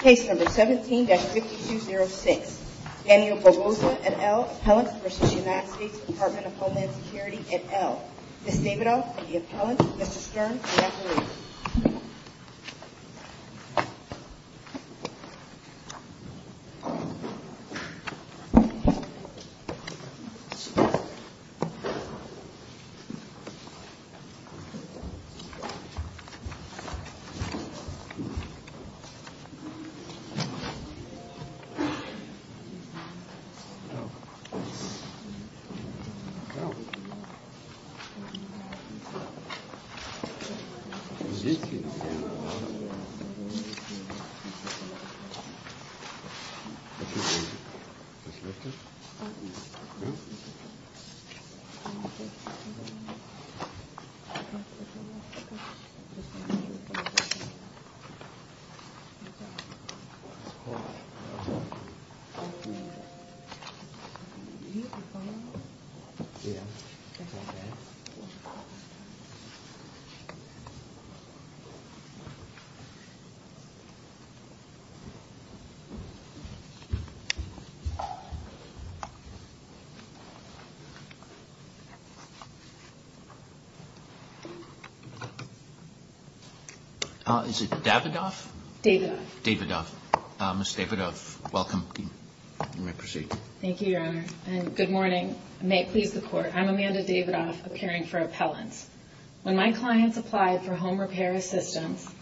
Case number 17-5206 Daniel Barbosa at L. Appellant for the United States Department of Homeland Security at L. Ms. Davidoff for the Appellant Mr. Stern for the Appellant Mr. Stern for the Appellant Mr. Stern for the Appellant Ms. Davidoff Is it Davidoff? Davidoff Davidoff Ms. Davidoff, welcome. Thank you, Your Honor. Good morning. May it please the Court, I'm Amanda Davidoff, appearing for Appellant. When my client applied for home repair assistance,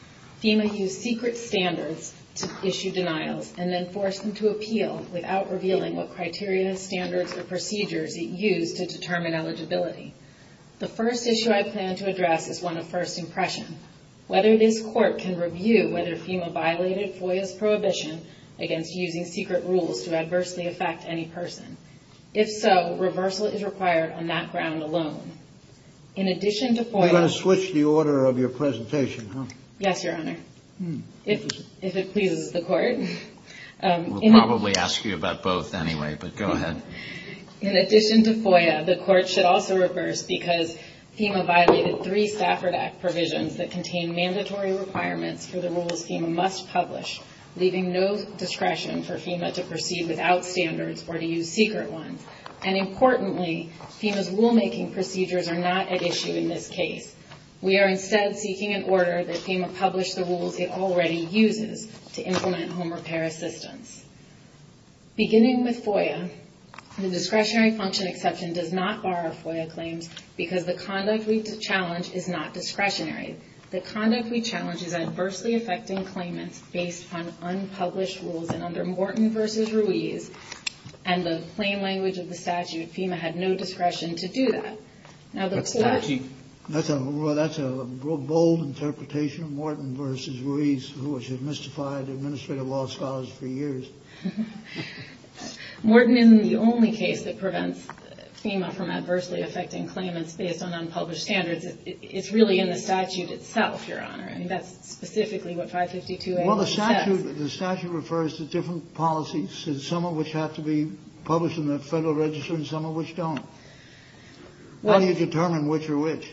FEMA used secret standards to issue denials and then forced them to appeal without revealing what criteria, standards, or procedures it used to determine eligibility. The first issue I plan to address is one of first impressions. Whether this Court can review whether FEMA violated FOIA's prohibition against using secret rules to adversely affect any person. If so, reversal is required on that ground alone. In addition to FOIA... You're going to switch the order of your presentation, huh? Yes, Your Honor. If it pleases the Court. We'll probably ask you about both anyway, but go ahead. In addition to FOIA, the Court should also reverse because FEMA violated three SAFRA Act provisions that contained mandatory requirements for the rules FEMA must publish, leaving no discretion for FEMA to proceed without standards or to use secret ones. And importantly, FEMA's rulemaking procedures are not at issue in this case. We are instead seeking an order that FEMA publish the rules it already uses to implement home repair assistance. Beginning with FOIA, the discretionary function exception does not bar FOIA claims because the conduct we challenge is not discretionary. The conduct we challenge is adversely affecting claimants based on unpublished rules, and under Morton v. Ruiz, and the plain language of the statute, FEMA had no discretion to do that. That's a bold interpretation, Morton v. Ruiz, who has mystified administrative law scholars for years. Morton, in the only case that prevents FEMA from adversely affecting claimants based on unpublished standards, it's really in the statute itself, Your Honor, and that's specifically what 552A1 says. Well, the statute refers to different policies, some of which have to be published in the Federal Register and some of which don't. How do you determine which are which?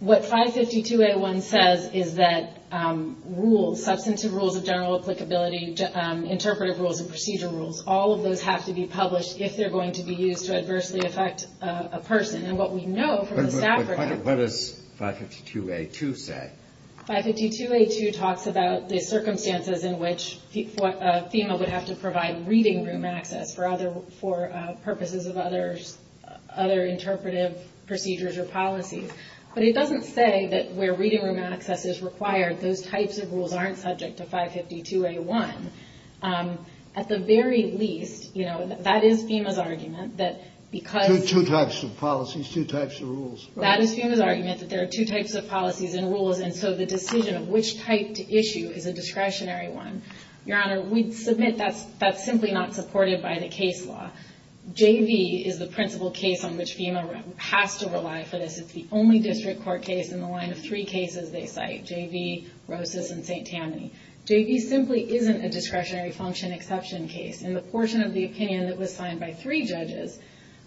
What 552A1 says is that rules, substantive rules of general applicability, interpretive rules, and procedure rules, all of those have to be published if they're going to be used to adversely affect a person. And what we know from the statute- But what does 552A2 say? 552A2 talks about the circumstances in which FEMA would have to provide reading room access for purposes of other interpretive procedures or policies. But it doesn't say that where reading room access is required, those types of rules aren't subject to 552A1. At the very least, that is FEMA's argument that because- Two types of policies, two types of rules. That is FEMA's argument that there are two types of policies and rules, and so the decision of which type to issue is a discretionary one. Your Honor, we submit that that's simply not supported by the case law. JV is the principal case on which FEMA has to rely for this. It's the only district court case in the line of three cases they cite, JV, Rosas, and St. Tammany. JV simply isn't a discretionary function exception case. In the portion of the opinion that was signed by three judges,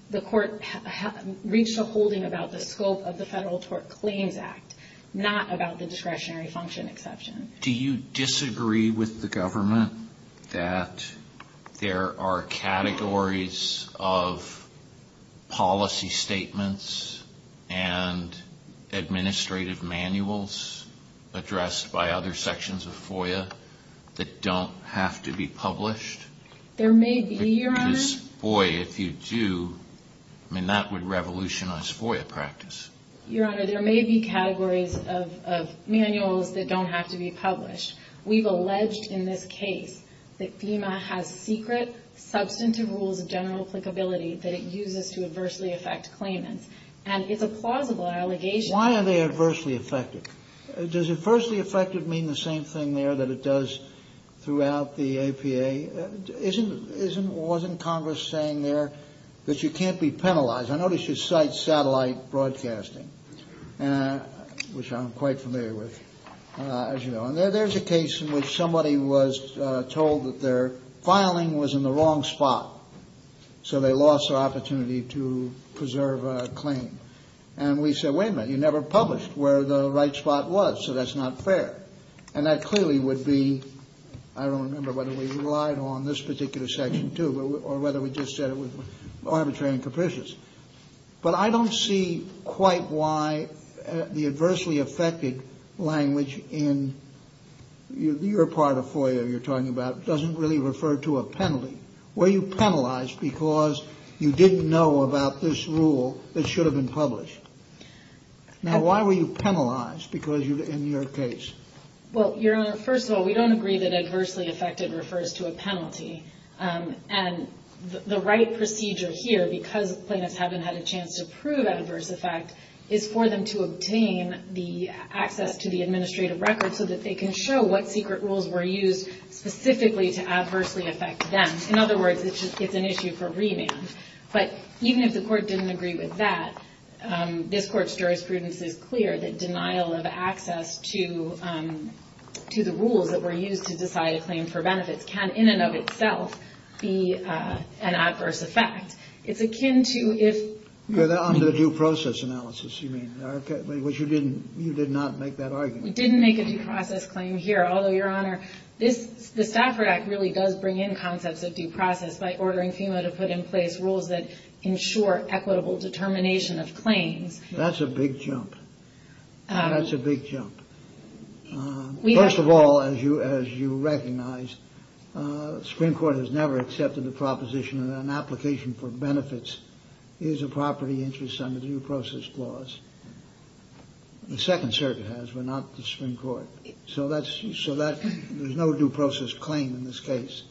the court reached a holding about the scope of the Federal Tort Claims Act, not about the discretionary function exception. Do you disagree with the government that there are categories of policy statements and administrative manuals addressed by other sections of FOIA that don't have to be published? There may be, Your Honor. Because, boy, if you do, I mean, that would revolutionize FOIA practice. Your Honor, there may be categories of manuals that don't have to be published. We've alleged in this case that FEMA has secret substantive rules of general applicability that it uses to adversely affect claimants. And it's a plausible allegation. Why are they adversely affected? Does adversely affected mean the same thing there that it does throughout the APA? Wasn't Congress saying there that you can't be penalized? I noticed you cite satellite broadcasting, which I'm quite familiar with, as you know. And there's a case in which somebody was told that their filing was in the wrong spot, so they lost their opportunity to preserve a claim. And we said, wait a minute, you never published where the right spot was, so that's not fair. And that clearly would be, I don't remember whether we relied on this particular section, too, or whether we just said it was arbitrary and capricious. But I don't see quite why the adversely affected language in your part of FOIA you're talking about doesn't really refer to a penalty. Were you penalized because you didn't know about this rule that should have been published? Now, why were you penalized in your case? Well, Your Honor, first of all, we don't agree that adversely affected refers to a penalty. And the right procedure here, because the plaintiffs haven't had a chance to prove adverse effect, is for them to obtain the access to the administrative record so that they can show what secret rules were used specifically to adversely affect them. In other words, it's just an issue for reading. But even if the court didn't agree with that, this Court's jurisprudence is clear that denial of access to the rules that were used to decide a claim for benefit can, in and of itself, be an adverse effect. It's akin to if... That was a due process analysis, you mean, which you did not make that argument. We didn't make a due process claim here. Although, Your Honor, the Stafford Act really does bring in concepts of due process by ordering FEMA to put in place rules that ensure equitable determination of claims. That's a big jump. That's a big jump. First of all, as you recognize, Supreme Court has never accepted the proposition that an application for benefits is a property interest under due process clause. The Second Circuit has, but not the Supreme Court. So there's no due process claim in this case.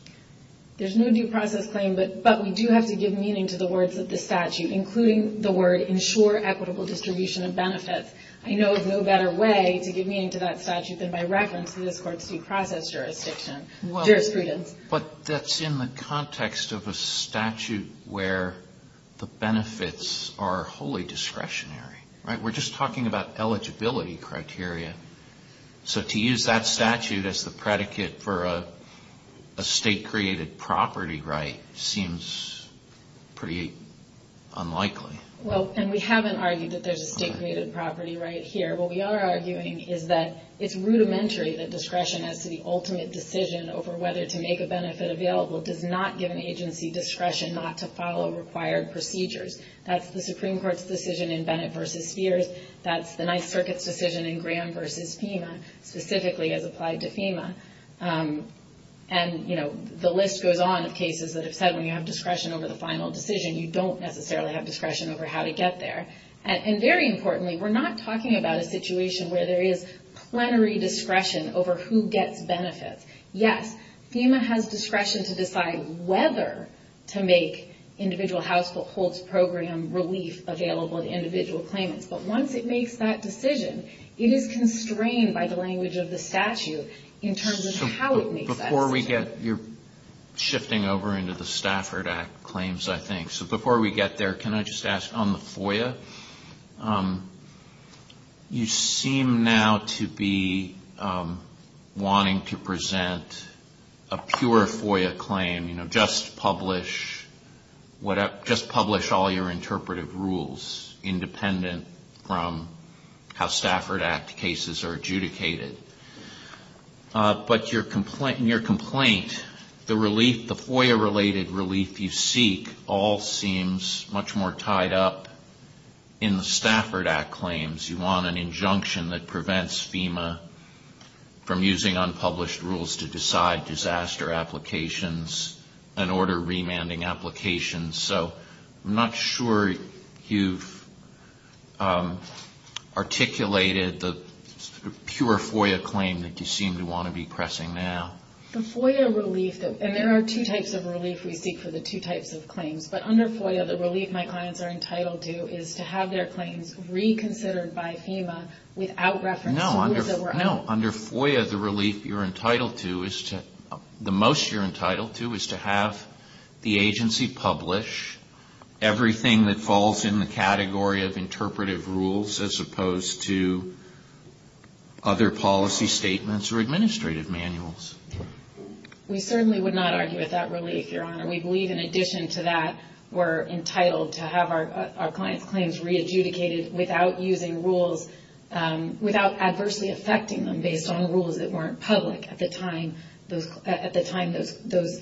There's no due process claim, but we do have to give meaning to the words of the statute, including the word ensure equitable distribution of benefits. I know of no better way to give meaning to that statute than by reference to this Court's due process jurisprudence. But that's in the context of a statute where the benefits are wholly discretionary. We're just talking about eligibility criteria. So to use that statute as the predicate for a state-created property right seems pretty unlikely. Well, and we haven't argued that there's a state-created property right here. What we are arguing is that it's rudimentary that discretion as to the ultimate decision over whether to make a benefit available does not give an agency discretion not to follow required procedures. That's the Supreme Court's decision in Bennett v. Sears. That's the Ninth Circuit's decision in Graham v. FEMA, specifically as applied to FEMA. And, you know, the list goes on of cases that have said when you have discretion over the final decision, you don't necessarily have discretion over how to get there. And very importantly, we're not talking about a situation where there is plenary discretion over who gets benefits. Yes, FEMA has discretion to decide whether to make individual household program relief available to individual claimants. But once it makes that decision, it is constrained by the language of the statute in terms of how it makes that decision. Before we get – you're shifting over into the Stafford Act claims, I think. So before we get there, can I just ask on the FOIA, you seem now to be wanting to present a pure FOIA claim, you know, just publish all your interpretive rules independent from how Stafford Act cases are adjudicated. But in your complaint, the FOIA-related relief you seek all seems much more tied up in the Stafford Act claims. You want an injunction that prevents FEMA from using unpublished rules to decide disaster applications and order remanding applications. So I'm not sure you've articulated the pure FOIA claim that you seem to want to be pressing now. The FOIA relief – and there are two types of relief we seek for the two types of claims. But under FOIA, the relief my clients are entitled to is to have their claims reconsidered by FEMA without referencing the rules that were out there. I don't know. Under FOIA, the relief you're entitled to is to – the most you're entitled to is to have the agency publish everything that falls in the category of interpretive rules as opposed to other policy statements or administrative manuals. We certainly would not argue with that relief, Your Honor. We believe in addition to that, we're entitled to have our clients' claims re-adjudicated without using rules – without adversely affecting them based on rules that weren't public at the time those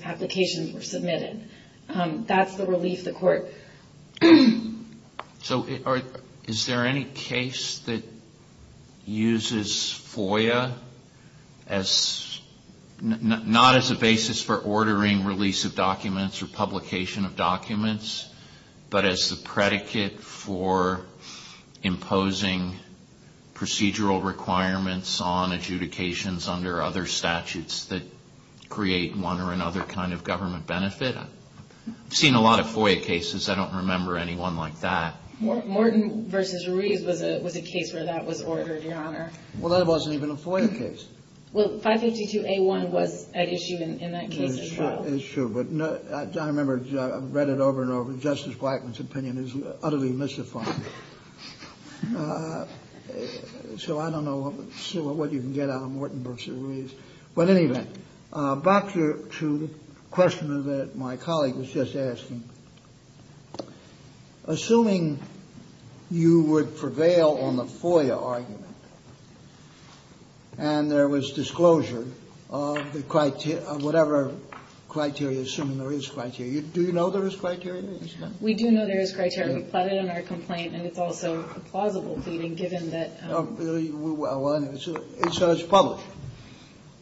applications were submitted. That's the relief the court – So is there any case that uses FOIA as – not as a basis for ordering release of documents or publication of documents, but as the predicate for imposing procedural requirements on adjudications under other statutes that create one or another kind of government benefit? I've seen a lot of FOIA cases. I don't remember anyone like that. Morton v. Reed was a case where that was ordered, Your Honor. Well, that wasn't even a FOIA case. Well, 552A1 was at issue in that case as well. It's true, but I remember I've read it over and over. Justice Blackman's opinion is utterly misappropriate. So I don't know what you can get out of Morton v. Reed. Well, in any event, back to the question that my colleague was just asking, assuming you would prevail on the FOIA argument, and there was disclosure of whatever criteria – assuming there is criteria – do you know there is criteria? We do know there is criteria, but it's in our complaint, and it's also plausible, given that – So it's public.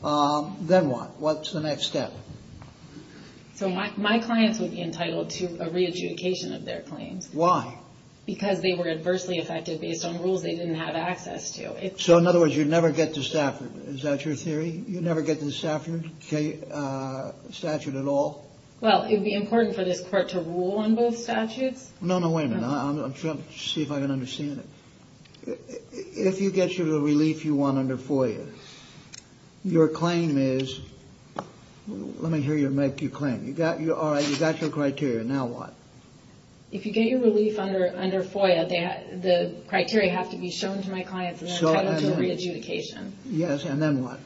Then what? What's the next step? My clients would be entitled to a re-adjudication of their claim. Why? Because they were adversely affected based on rules they didn't have access to. So, in other words, you'd never get to Stafford. Is that your theory? You'd never get to the Stafford statute at all? Well, it would be important for this court to rule on both statutes. No, no, wait a minute. I'm trying to see if I can understand it. If you get your relief you want under FOIA, your claim is – let me hear you make your claim. All right, you got your criteria. Now what? If you get your relief under FOIA, the criteria have to be shown to my clients and then entitled to the re-adjudication. Yes, and then what?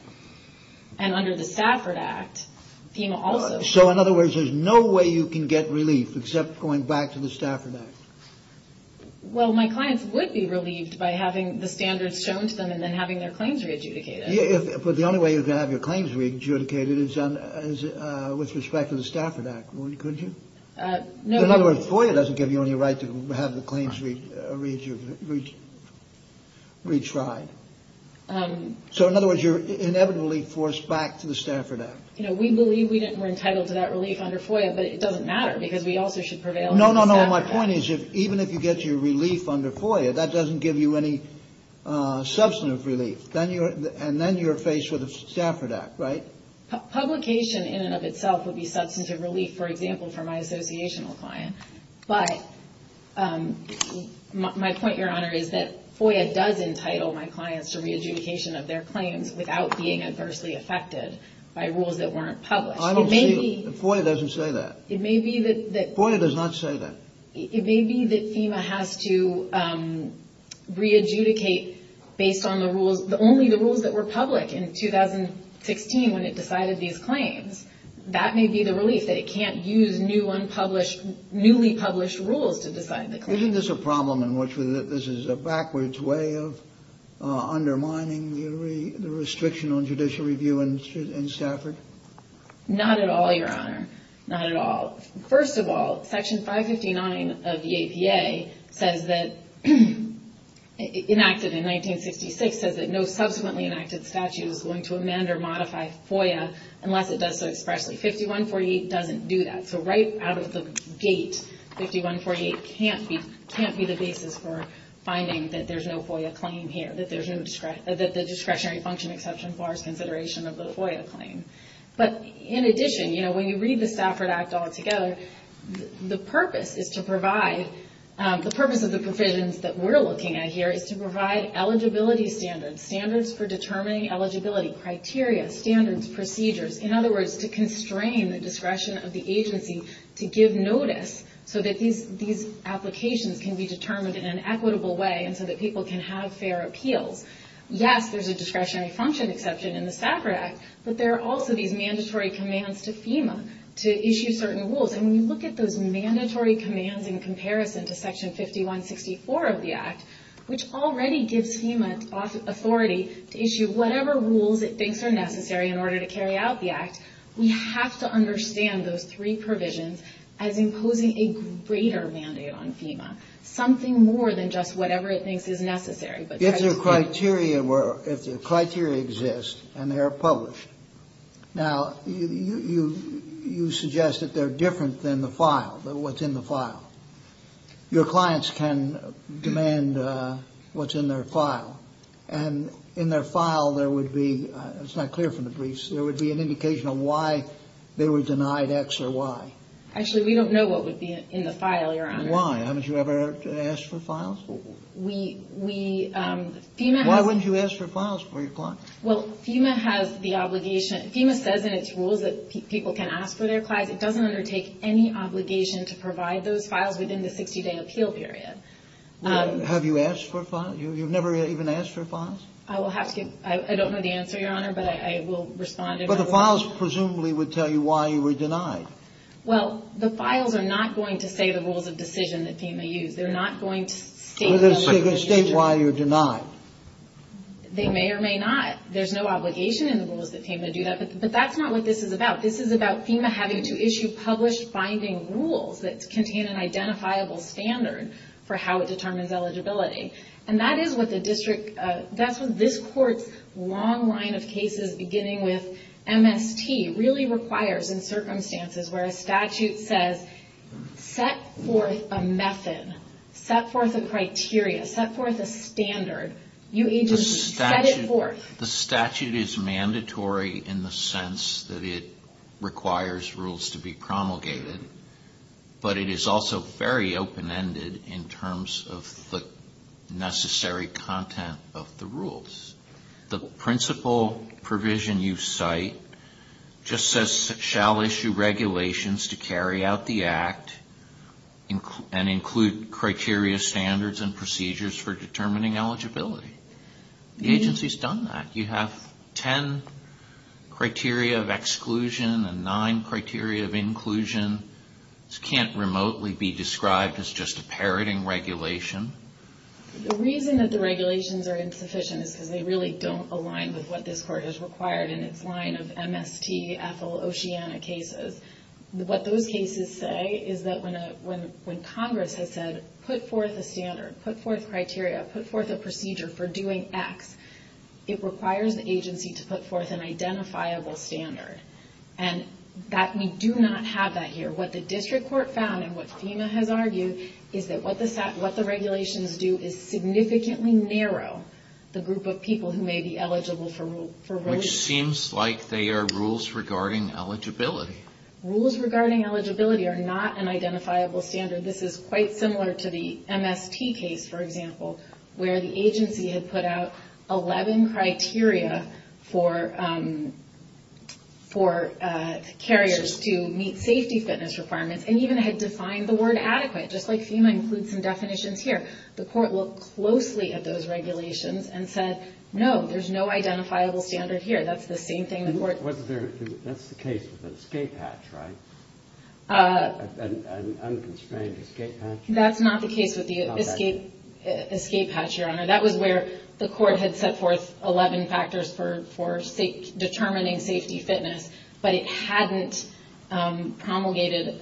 And under the Stafford Act, FEMA also – So, in other words, there's no way you can get relief except going back to the Stafford Act? Well, my clients would be relieved by having the standards shown to them and then having their claims re-adjudicated. But the only way you can have your claims re-adjudicated is with respect to the Stafford Act, wouldn't you? No. So, in other words, FOIA doesn't give you any right to have your claims re-tried. So, in other words, you're inevitably forced back to the Stafford Act. You know, we believe we're entitled to that relief under FOIA, but it doesn't matter because we also should prevail. No, no, no. My point is that even if you get your relief under FOIA, that doesn't give you any substantive relief. And then you're faced with a Stafford Act, right? Publication in and of itself would be substantive relief, for example, for my associational clients. But my point, Your Honor, is that FOIA does entitle my clients to re-adjudication of their claims without being adversely affected by rules that weren't public. I don't believe FOIA doesn't say that. FOIA does not say that. It may be that FEMA has to re-adjudicate based on only the rules that were public in 2016 when it decided these claims. That may be the relief, that it can't use newly published rules to decide the claims. Isn't this a problem in which this is a backwards way of undermining the restriction on judicial review in Stafford? Not at all, Your Honor. Not at all. First of all, Section 559 of the APA, enacted in 1956, says that no subsequently enacted statute is going to amend or modify FOIA unless it does so expressly. 5148 doesn't do that. So right out of the gate, 5148 can't be the basis for finding that there's no FOIA claim here, that there's no discretionary function exception for consideration of the FOIA claim. But in addition, when you read the Stafford Act altogether, the purpose of the provisions that we're looking at here is to provide eligibility standards, standards for determining eligibility, criteria, standards, procedures. In other words, to constrain the discretion of the agency to give notice so that these applications can be determined in an equitable way and so that people can have fair appeal. Yes, there's a discretionary function exception in the Stafford Act, but there are also these mandatory commands to FEMA to issue certain rules. And when you look at those mandatory commands in comparison to Section 5164 of the Act, which already gives FEMA authority to issue whatever rules it thinks are necessary in order to carry out the Act, we have to understand those three provisions as imposing a greater mandate on FEMA, something more than just whatever it thinks is necessary. If the criteria exist and they're published, now you suggest that they're different than the file, than what's in the file. Your clients can demand what's in their file, and in their file there would be, it's not clear from the briefs, there would be an indication of why they were denied X or Y. Actually, we don't know what would be in the file, Your Honor. Why? Haven't you ever asked for files? Why wouldn't you ask for files for your clients? Well, FEMA has the obligation. FEMA says in its rules that people can ask for their files. It doesn't undertake any obligation to provide those files within the 60-day appeal period. Have you asked for files? You've never even asked for files? I will have to. I don't know the answer, Your Honor, but I will respond if I will. But the files presumably would tell you why you were denied. Well, the files are not going to say the rules of decision that FEMA used. They're not going to state why you were denied. They may or may not. There's no obligation in the rules that say they're going to do that. But that's not what this is about. This is about FEMA having to issue published binding rules that contain an identifiable standard for how it determines eligibility. And that is what the district, that's what this court's long line of cases, beginning with MST, really requires in circumstances where a statute says set forth a method, set forth a criteria, set forth a standard. You need to set it forth. The statute is mandatory in the sense that it requires rules to be promulgated. But it is also very open-ended in terms of the necessary content of the rules. The principal provision you cite just says shall issue regulations to carry out the act and include criteria, standards, and procedures for determining eligibility. The agency's done that. You have ten criteria of exclusion and nine criteria of inclusion. This can't remotely be described as just a parroting regulation. The reason that the regulations are insufficient is because they really don't align with what this court has required in its line of MST, Ethel, Oceana cases. What those cases say is that when Congress has said put forth a standard, put forth criteria, put forth a procedure for doing X, it requires the agency to put forth an identifiable standard. And we do not have that here. So what the district court found and what FEMA has argued is that what the regulations do is significantly narrow the group of people who may be eligible for voting. Which seems like they are rules regarding eligibility. Rules regarding eligibility are not an identifiable standard. This is quite similar to the MST case, for example, where the agency had put out 11 criteria for carriers to meet safety fitness requirements and even had defined the word adequate, just like FEMA includes some definitions here. The court looked closely at those regulations and said, no, there's no identifiable standard here. That's the same thing the court... That's the case with the escape hatch, right? An unconstrained escape hatch? That's not the case with the escape hatch, Your Honor. That was where the court had put forth 11 factors for determining safety fitness, but it hadn't promulgated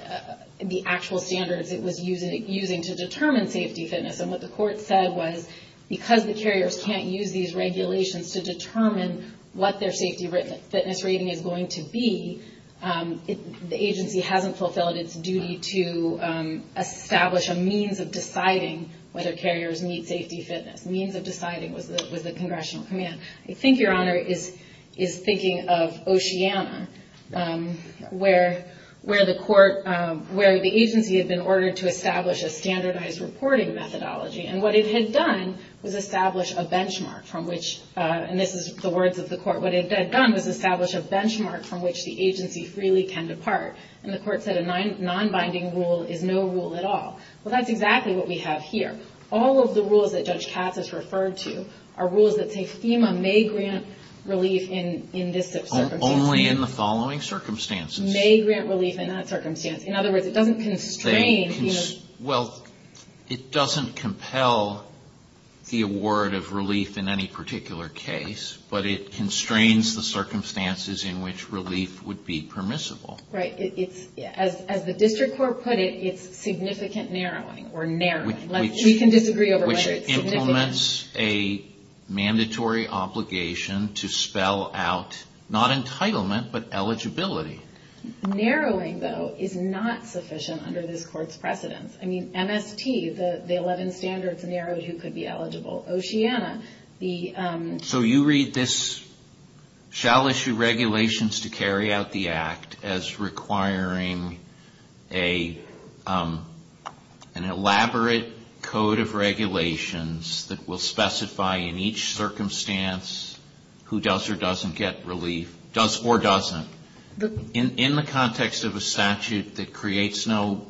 the actual standards it was using to determine safety fitness. And what the court said was because the carriers can't use these regulations to determine what their safety fitness rating is going to be, the agency hasn't fulfilled its duty to establish a means of deciding whether carriers meet safety fitness. Means of deciding with the congressional command. I think, Your Honor, is thinking of Oceana, where the agency has been ordered to establish a standardized reporting methodology. And what it had done was establish a benchmark from which... And this is the words of the court. What it had done was establish a benchmark from which the agency freely can depart. And the court said a non-binding rule is no rule at all. Well, that's exactly what we have here. All of the rules that Judge Katz has referred to are rules that say FEMA may grant relief in this circumstance. Only in the following circumstances. May grant relief in that circumstance. In other words, it doesn't constrain FEMA... Well, it doesn't compel the award of relief in any particular case, but it constrains the circumstances in which relief would be permissible. Right. As the district court put it, it's significant narrowing or narrowing. We can disagree over that. Which implements a mandatory obligation to spell out, not entitlement, but eligibility. Narrowing, though, is not sufficient under this court's precedence. I mean, MST, the 11 standards narrowed who could be eligible. Oceana, the... So you read this, shall issue regulations to carry out the act as requiring an elaborate code of regulations that will specify in each circumstance who does or doesn't get relief. Does or doesn't. In the context of a statute that creates no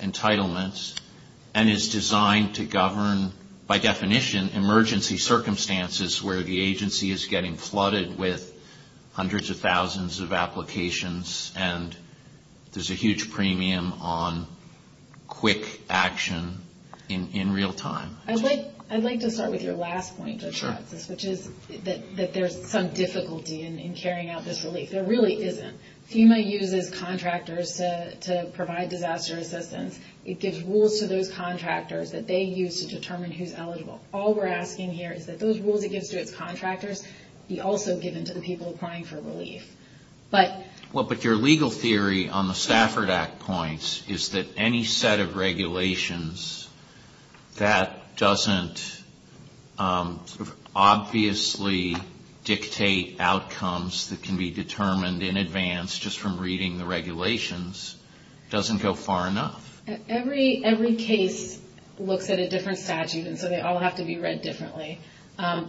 entitlements and is designed to govern, by definition, emergency circumstances where the agency is getting flooded with hundreds of thousands of applications and there's a huge premium on quick action in real time. I'd like to start with your last point, Judge Katz. Sure. That there's some difficulty in carrying out this relief. There really isn't. FEMA uses contractors to provide disaster assistance. It gives rules to those contractors that they use to determine who's eligible. All we're asking here is that those rules it gives to its contractors be also given to the people applying for relief. But... dictate outcomes that can be determined in advance just from reading the regulations doesn't go far enough. Every case looks at a different statute, and so they all have to be read differently.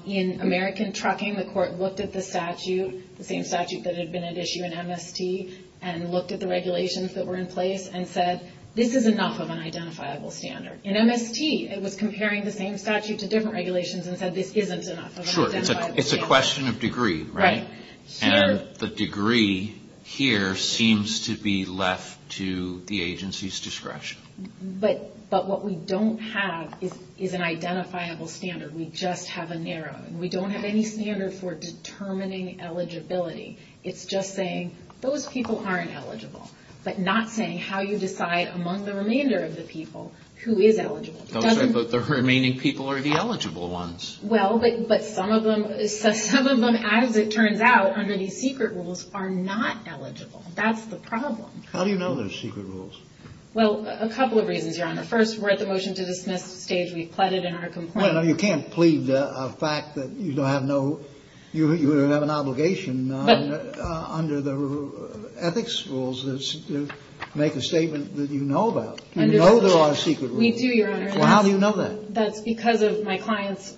In American Trucking, the court looked at the statute, the same statute that had been at issue in MST, and looked at the regulations that were in place and said, this is enough of an identifiable standard. In MST, it was comparing the same statute to different regulations and said, this isn't enough of an identifiable standard. Sure. It's a question of degree, right? Right. Sure. And the degree here seems to be left to the agency's discretion. But what we don't have is an identifiable standard. We just have a narrow. We don't have any standard for determining eligibility. It's just saying, those people aren't eligible. But not saying how you decide among the remainder of the people who is eligible. But the remaining people are the eligible ones. Well, but some of them, as it turns out, under these secret rules, are not eligible. That's the problem. How do you know they're secret rules? Well, a couple of reasons, Your Honor. First, we're at the motion to dismiss stage. We pled it in our complaint. Your Honor, you can't plead a fact that you have an obligation under the ethics rules to make a statement that you know that. You know there are secret rules. We do, Your Honor. How do you know that? That's because of my client's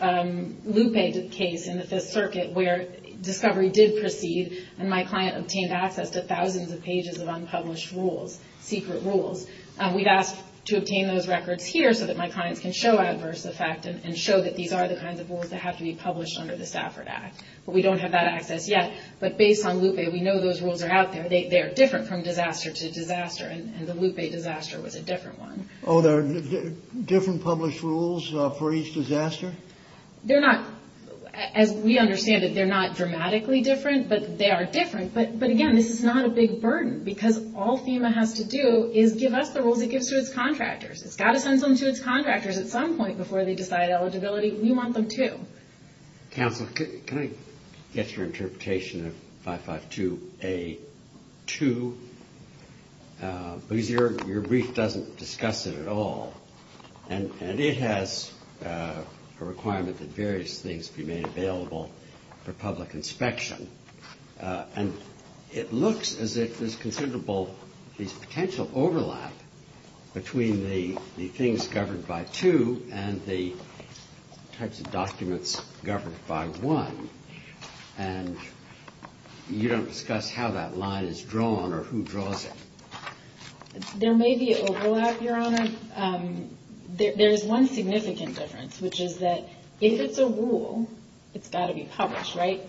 loop agent case in the Fifth Circuit where discovery did proceed and my client obtained access to thousands of pages of unpublished rules, secret rules. We've asked to obtain those records here so that my client can show adverse effect and show that these are the kinds of rules that have to be published under the Stafford Act. But we don't have that access yet. But based on Loop A, we know those rules are out there. They are different from disaster to disaster, and the Loop A disaster was a different one. Oh, there are different published rules for each disaster? They're not. As we understand it, they're not dramatically different, but they are different. But, again, this is not a big burden because all FEMA has to do is give us the rules it gives to its contractors. It's got to send them to its contractors at some point before they decide eligibility. We want them to. Counsel, can I get your interpretation of 552A2? Because your brief doesn't discuss it at all, and it has a requirement that various things be made available for public inspection. And it looks as if there's considerable potential overlap between the things covered by 2 and the types of documents governed by 1. And you don't discuss how that line is drawn or who draws it. There may be an overlap, Your Honor. There is one significant difference, which is that if it's a rule, it's got to be published, right?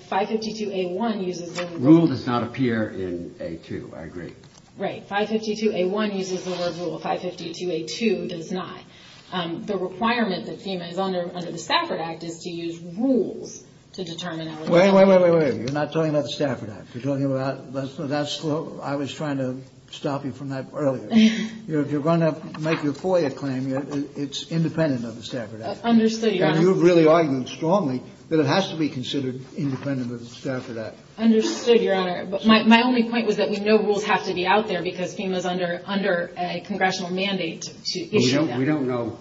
Rule does not appear in A2. I agree. Right. 552A1 uses the word rule. 552A2 does not. The requirement that FEMA is under the Stafford Act is to use rules to determine rules. Wait, wait, wait, wait, wait. You're not talking about the Stafford Act. You're talking about that's what I was trying to stop you from that earlier. If you're going to make your FOIA claim, it's independent of the Stafford Act. Understood, Your Honor. You've really argued strongly that it has to be considered independent of the Stafford Act. Understood, Your Honor. My only point was that we know rules have to be out there because FEMA is under a congressional mandate to issue them. We don't know.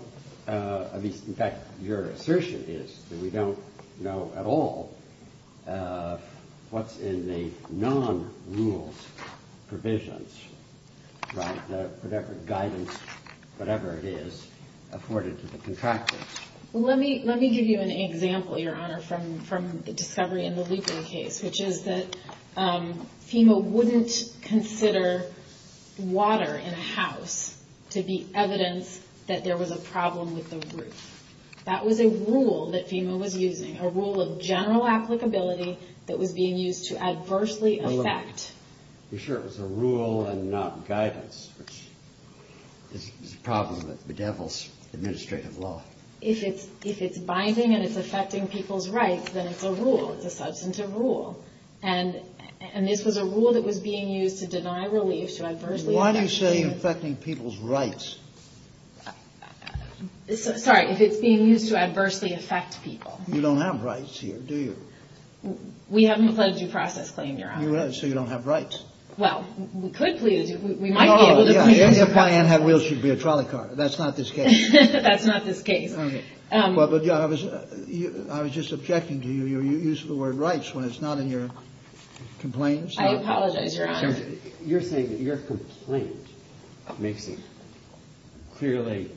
In fact, your assertion is that we don't know at all what's in the non-rule provisions, right, whatever guidance, whatever it is, afforded to the contractors. Let me give you an example, Your Honor, from the discovery in the Lieber case, which is that FEMA wouldn't consider water in a house to be evidence that there was a problem with the roof. That was a rule that FEMA was using, a rule of general applicability that was being used to adversely affect. You're sure it was a rule and not guidance? It's a problem with the devil's administrative law. If it's binding and it's affecting people's rights, then it's a rule, a substantive rule. And this was a rule that was being used to deny relief to adversely affect people. Why do you say affecting people's rights? Sorry, if it's being used to adversely affect people. You don't have rights here, do you? We haven't closed your process claim, Your Honor. So you don't have rights. Well, we could, please. If Diane had wheels, she'd be a trolley car. That's not the case. That's not the case. I was just objecting to your use of the word rights when it's not in your complaints. I apologize, Your Honor. You're saying that your complaint clearly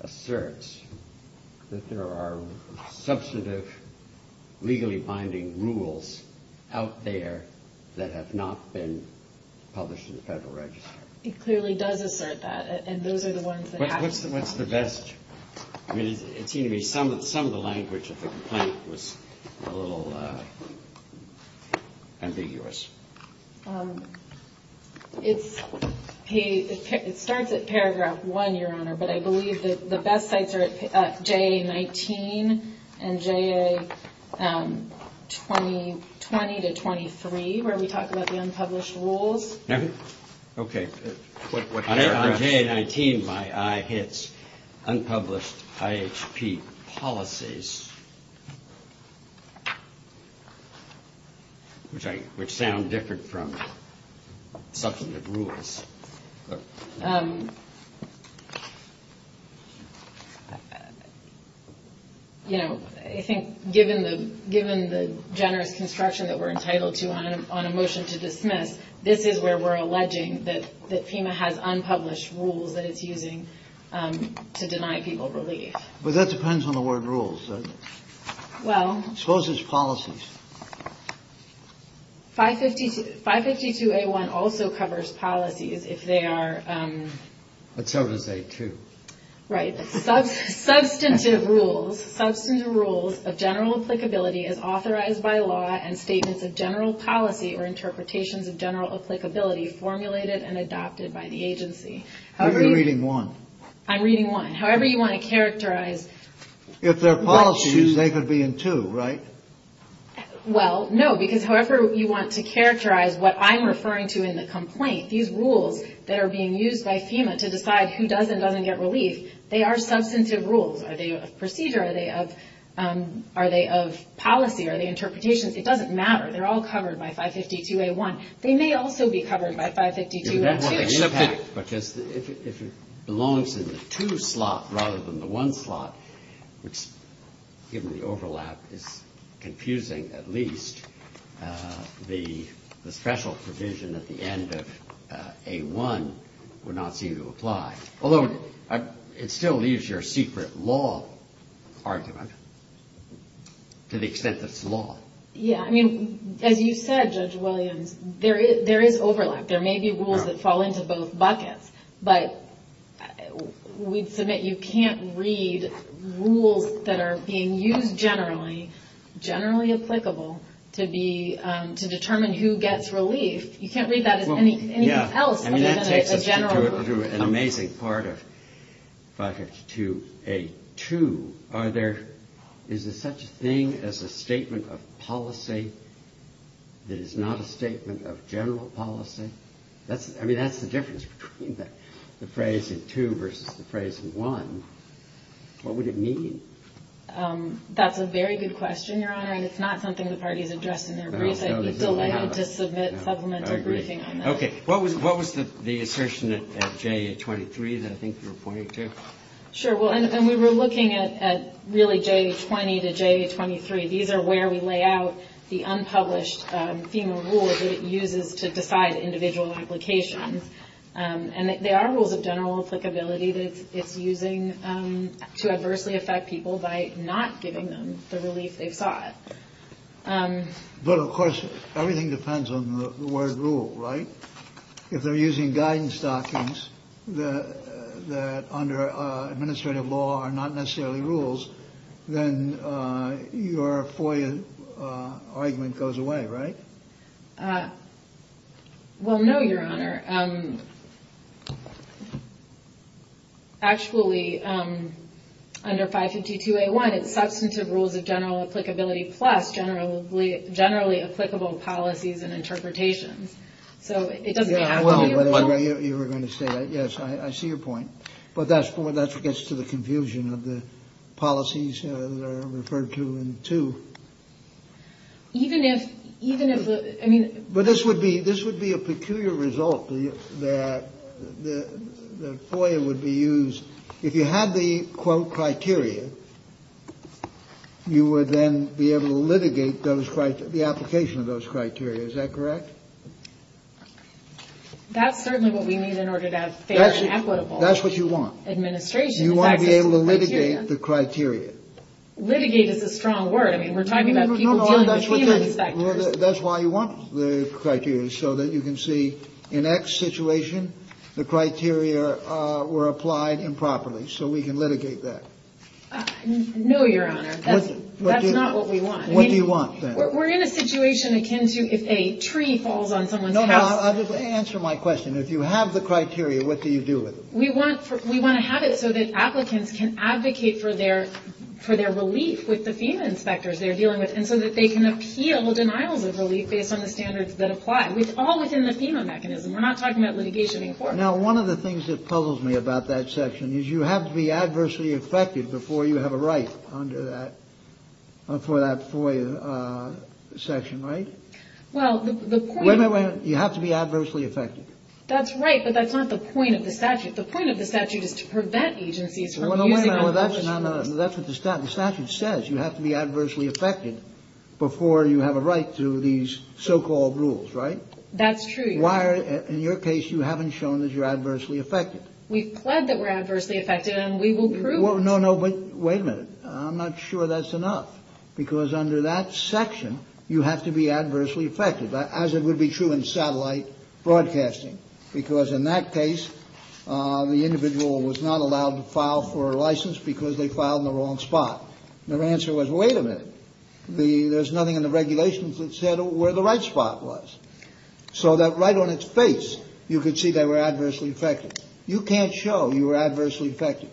asserts that there are substantive, legally binding rules out there that have not been published in the Federal Register. It clearly does assert that, and those are the ones that act. What's the best? Some of the language of the complaint was a little ambiguous. It starts at paragraph 1, Your Honor, but I believe that the best sites are at JA-19 and JA-20 to 23 where we talk about the unpublished rules. Okay. On JA-19, my eye hits unpublished IHP policies, which sound different from substantive rules. You know, I think given the generous construction that we're entitled to on a motion to dismiss, this is where we're alleging that FEMA has unpublished rules that it's using to deny people relief. But that depends on the word rules. Well... Suppose it's policies. 552A1 also covers policies if they are... It covers A2. Right. Substantive rules of general applicability as authorized by law and statements of general policy or interpretations of general applicability formulated and adopted by the agency. I'm reading 1. I'm reading 1. However you want to characterize... If they're policies, they could be in 2, right? Well, no, because however you want to characterize what I'm referring to in the complaint, these rules that are being used by FEMA to decide who does and doesn't get relief, they are substantive rules. Are they of procedure? Are they of policy? Are they interpretations? It doesn't matter. They're all covered by 552A1. They may also be covered by 552A2. But if it belongs to the 2 slot rather than the 1 slot, which, given the overlap, is confusing at least, the special provision at the end of A1 would not seem to apply. Although it still leaves your secret law argument to the extent that it's law. Yeah. I mean, as you said, Judge Williams, there is overlap. There may be rules that fall into both buckets. But we submit you can't read rules that are being used generally, generally applicable, to determine who gets relief. You can't read that as anything else other than a general rule. An amazing part of 552A2. Is there such a thing as a statement of policy that is not a statement of general policy? I mean, that's the difference between the phrase in 2 versus the phrase in 1. What would it mean? That's a very good question, Your Honor. And it's not something the parties address in their rules. No, no, they don't. It's a letter to submit supplemental briefing. I agree. Okay. What was the assertion at JA23 that I think you're pointing to? Sure. And we were looking at really JA20 to JA23. These are where we lay out the unpublished FEMA rules that it uses to decide individual implications. And there are rules of general applicability that it's using to adversely affect people by not giving them the relief they sought. But, of course, everything depends on the word rule, right? If they're using guidance documents that under administrative law are not necessarily rules, then your FOIA argument goes away, right? Well, no, Your Honor. Actually, under 552A1, it's substantive rules of general applicability plus generally applicable policies and interpretations. So it doesn't matter. Well, you were going to say that. Yes, I see your point. But that's what gets to the confusion of the policies referred to in 2. Even if the – I mean – But this would be a peculiar result that the FOIA would be used. If you had the, quote, criteria, you would then be able to litigate the application of those criteria. Is that correct? That's certainly what we need in order to have fair and equitable administration. That's what you want. You want to be able to litigate the criteria. Litigate is a strong word. I mean, we're talking about people who are in the FEMA sector. That's why you want the criteria, so that you can see, in X situation, the criteria were applied improperly, so we can litigate that. No, Your Honor. That's not what we want. What do you want, then? We're in a situation akin to if a tree falls on someone. No, I'll just answer my question. If you have the criteria, what do you do with it? We want to have it so that applicants can advocate for their relief with the FEMA inspectors they're dealing with and so that they can appeal denial of relief based on the standards that apply. It's all within the FEMA mechanism. We're not talking about litigation in court. Now, one of the things that puzzles me about that section is you have to be adversely affected before you have a right under that, for that FOIA section, right? Well, the point is... Wait a minute, wait a minute. You have to be adversely affected. That's right, but that's not the point of the statute. The point of the statute is to prevent agencies from using... That's what the statute says. You have to be adversely affected before you have a right to these so-called rules, right? That's true. Why, in your case, you haven't shown that you're adversely affected. We plead that we're adversely affected and we will prove it. No, no, but wait a minute. I'm not sure that's enough because under that section, you have to be adversely affected as it would be true in satellite broadcasting because in that case, the individual was not allowed to file for a license because they filed in the wrong spot. Their answer was, wait a minute. There's nothing in the regulations that said where the right spot was. So that right on its face, you could see they were adversely affected. You can't show you're adversely affected.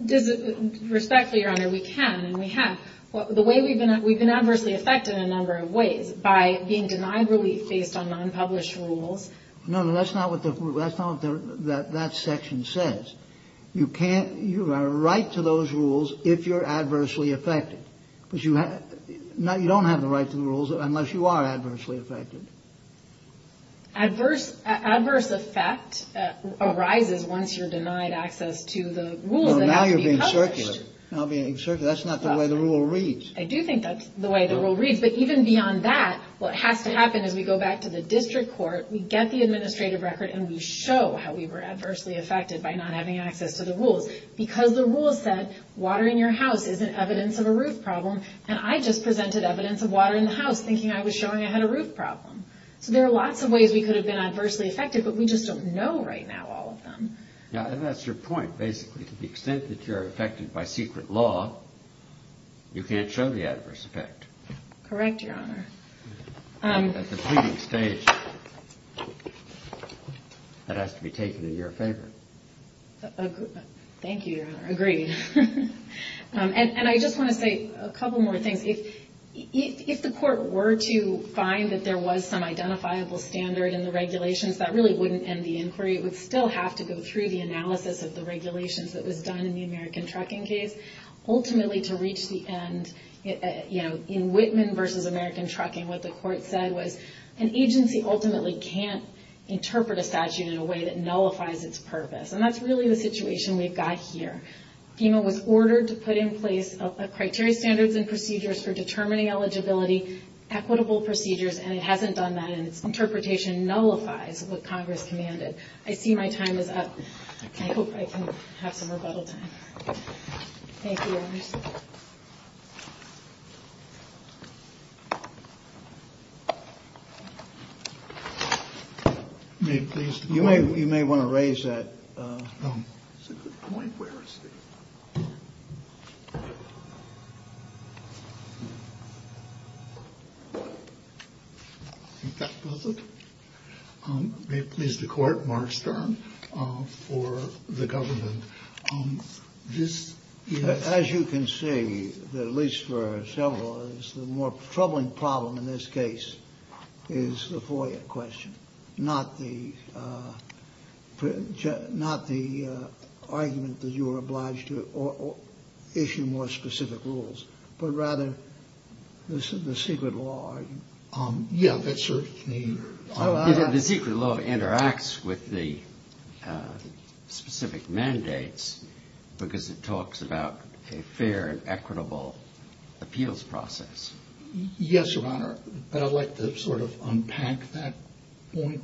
With respect to your honor, we can and we have. The way we've been... We've been adversely affected in a number of ways by being denied relief based on non-published rules. No, no, that's not what that section says. You have a right to those rules if you're adversely affected. You don't have the right to the rules unless you are adversely affected. Adverse effect arises once you're denied access to the rules. Now you're being circular. That's not the way the rule reads. I do think that's the way the rule reads. But even beyond that, what has to happen is we go back to the district court, we get the administrative record, and we show how we were adversely affected by not having access to the rules. Because the rule said water in your house isn't evidence of a roof problem, and I just presented evidence of water in the house thinking I was showing I had a roof problem. There are lots of ways we could have been adversely affected, but we just don't know right now all of them. And that's your point, basically. To the extent that you're affected by secret law, you can't show the adverse effect. Correct, Your Honor. That's a pretty big stage. That has to be taken in your favor. Thank you, Your Honor. Agreed. And I just want to say a couple more things. If the court were to find that there was some identifiable standard in the regulations, that really wouldn't end the inquiry. It would still have to go through the analysis of the regulations that was done in the American Trucking case. Ultimately, to reach the end, you know, in Whitman v. American Trucking, what the court said was an agency ultimately can't interpret a statute in a way that nullifies its purpose. And that's really the situation we've got here. FEMA was ordered to put in place criteria standards and procedures for determining eligibility, equitable procedures, and it hasn't done that, and interpretation nullifies what Congress commanded. I see my time is up. I hope I can have some rebuttal time. Thank you, Your Honor. Thank you. You may want to raise that. Is the court March term for the government? As you can see, at least for several of us, the more troubling problem in this case is the FOIA question, not the argument that you are obliged to issue more specific rules, but rather the secret law. The secret law interacts with the specific mandates because it talks about a fair and equitable appeals process. Yes, Your Honor, but I'd like to sort of unpack that point.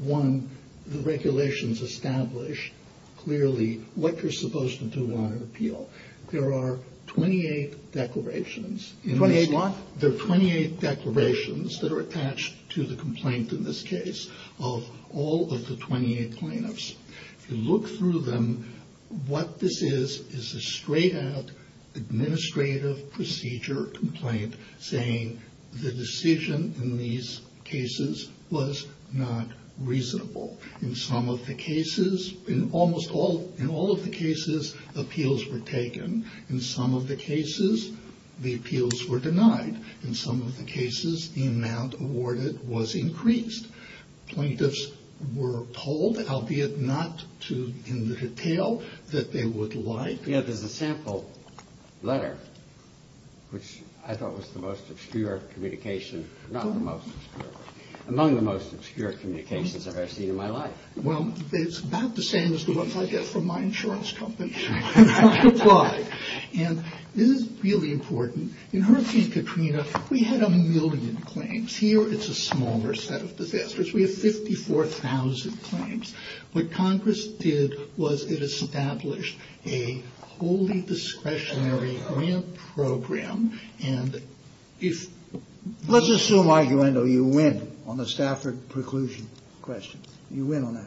One, the regulations establish clearly what you're supposed to do on an appeal. There are 28 declarations. 28 what? There are 28 declarations that are attached to the complaint in this case of all of the 28 plaintiffs. You look through them. What this is is a straight-out administrative procedure complaint saying the decision in these cases was not reasonable. In some of the cases, in almost all of the cases, appeals were taken. In some of the cases, the appeals were denied. In some of the cases, the amount awarded was increased. Plaintiffs were told, albeit not in detail, that they would like the other sample letter, which I thought was the most obscure of communications, among the most obscure of communications that I've seen in my life. Well, it's about the same as the ones I get from my insurance company. And this is really important. In her case, Katrina, we had a million claims. Here, it's a smaller set of disasters. We have 54,000 claims. What Congress did was it established a wholly discretionary grant program, and if Let's just do an argument, though. You win on the Stafford preclusion question. You win on that.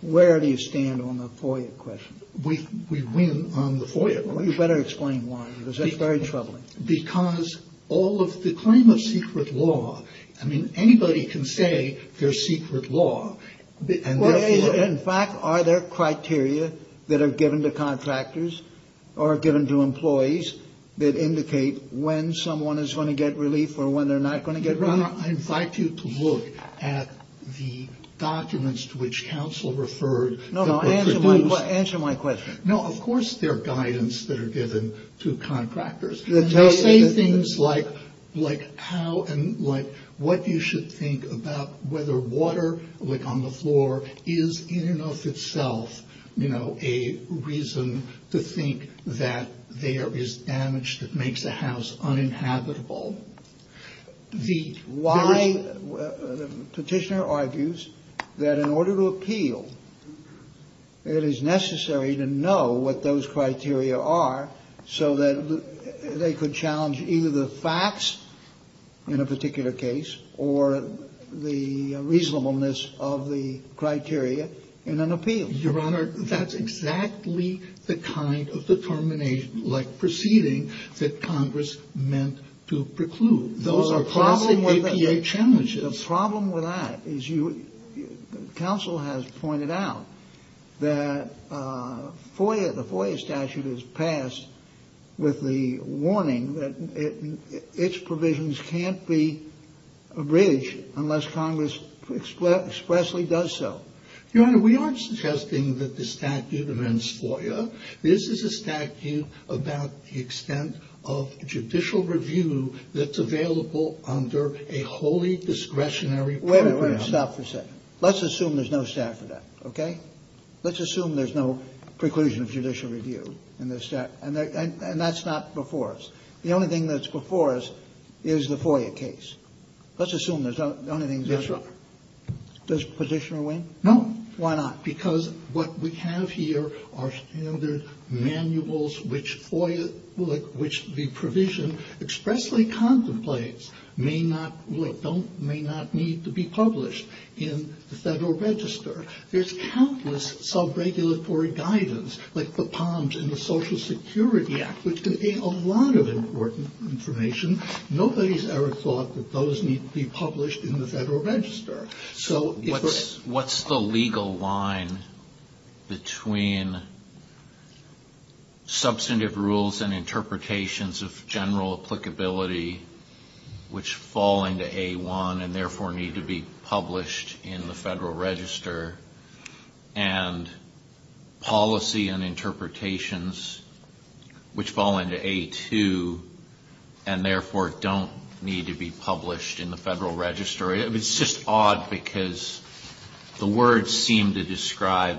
Where do you stand on the FOIA question? We win on the FOIA question. Well, you better explain why, because that's very troubling. Because all of the claim of secret law, I mean, anybody can say they're secret law. In fact, are there criteria that are given to contractors or given to employees that indicate when someone is going to get relief or when they're not going to get relief? I invite you to look at the documents to which counsel referred. No, no, answer my question. No, of course there are guidance that are given to contractors. They say things like what you should think about whether water on the floor is in and of itself a reason to think that there is damage that makes the house uninhabitable. The petitioner argues that in order to appeal, it is necessary to know what those criteria are so that they could challenge either the facts in a particular case or the reasonableness of the criteria in an appeal. Your Honor, that's exactly the kind of determination, like proceeding, that Congress meant to preclude. The problem with that is counsel has pointed out that the FOIA statute is passed with the warning that its provisions can't be abridged unless Congress expressly does so. Your Honor, we aren't suggesting that the statute prevents FOIA. This is a statute about the extent of judicial review that's available under a wholly discretionary program. Wait a minute. Stop for a second. Let's assume there's no statute, okay? Let's assume there's no preclusion of judicial review in this statute. And that's not before us. The only thing that's before us is the FOIA case. Let's assume that's the only thing that's before us. Does the petitioner win? No. Why not? Because what we have here are standard manuals which the provision expressly contemplates may not need to be published in the Federal Register. There's countless sub-regulatory guidance, like the POMS and the Social Security Act, which contain a lot of important information. Nobody's ever thought that those need to be published in the Federal Register. So what's the legal line between substantive rules and interpretations of general applicability, which fall into A1 and therefore need to be published in the Federal Register, and policy and interpretations which fall into A2 and therefore don't need to be published in the Federal Register? It's just odd because the words seem to describe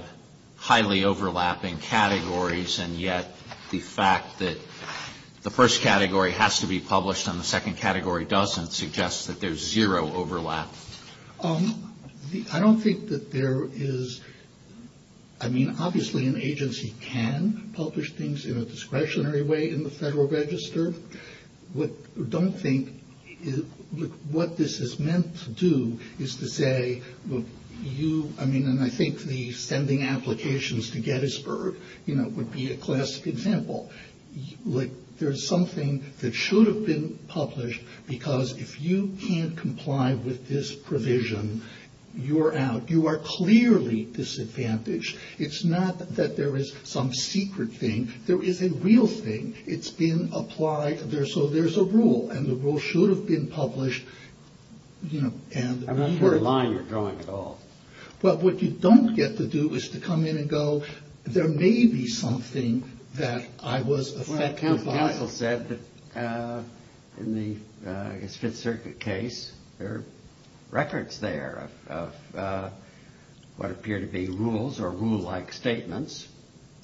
highly overlapping categories, and yet the fact that the first category has to be published and the second category doesn't suggests that there's zero overlap. I don't think that there is – I mean, obviously an agency can publish things in a discretionary way in the Federal Register. I don't think what this is meant to do is to say, I mean, I think the sending applications to Gettysburg would be a classic example. There's something that should have been published because if you can't comply with this provision, you're out. You are clearly disadvantaged. It's not that there is some secret thing. There is a real thing. It's been applied. So there's a rule, and the rule should have been published. I'm not sure why you're going at all. Well, what you don't get to do is to come in and go, there may be something that I was affected by. Well, I think Michael said that in the Fifth Circuit case, there are records there of what appear to be rules or rule-like statements.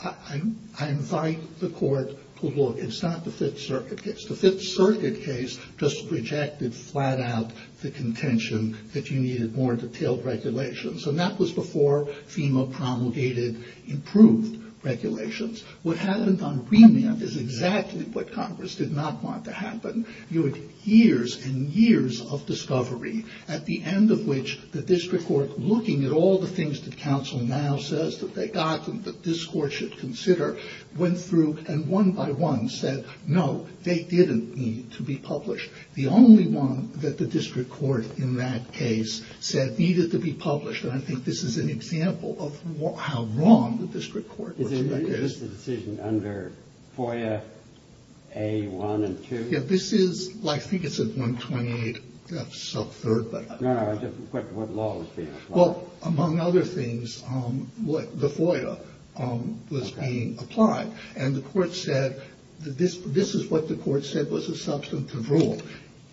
I invite the court to look. It's not the Fifth Circuit case. The Fifth Circuit case just rejected flat out the contention that you needed more detailed regulations, and that was before FEMA promulgated improved regulations. What happened on remand is exactly what Congress did not want to happen. You had years and years of discovery, at the end of which the district court, looking at all the things that counsel now says that they got, that this court should consider, went through and one by one said, no, they didn't need to be published. The only one that the district court in that case said needed to be published, and I think this is an example of how wrong the district court was. Is this a decision under FOIA A1 and 2? Yeah, this is, I think it's a 128 sub-third. Well, among other things, the FOIA was being applied, and the court said, this is what the court said was a substantive rule.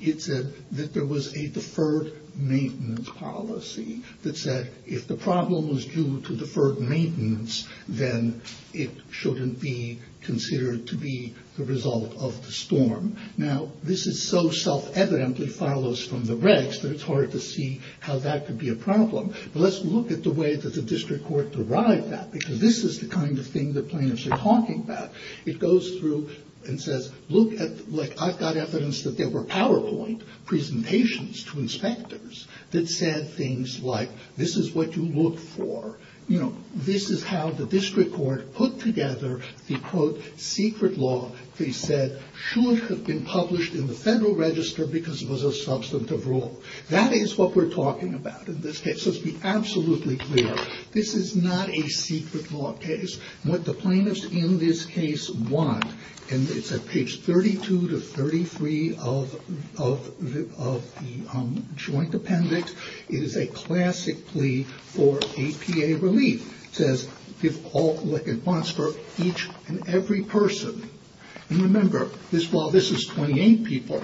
It said that there was a deferred maintenance policy that said if the problem was due to deferred maintenance, then it shouldn't be considered to be the result of the storm. Now, this is so self-evident that follows from the regs that it's hard to see how that could be a problem. Let's look at the way that the district court derived that, because this is the kind of thing that plaintiffs are talking about. It goes through and says, look at, like, I've got evidence that there were PowerPoint presentations to inspectors that said things like, this is what you look for. You know, this is how the district court put together the, quote, secret law that he said shouldn't have been published in the Federal Register because it was a substantive rule. That is what we're talking about in this case. Let's be absolutely clear. This is not a secret law case. What the plaintiffs in this case want, and it's on page 32 to 33 of the joint appendix, it is a classic plea for APA relief. It says, give all what it wants for each and every person. And remember, while this is 28 people,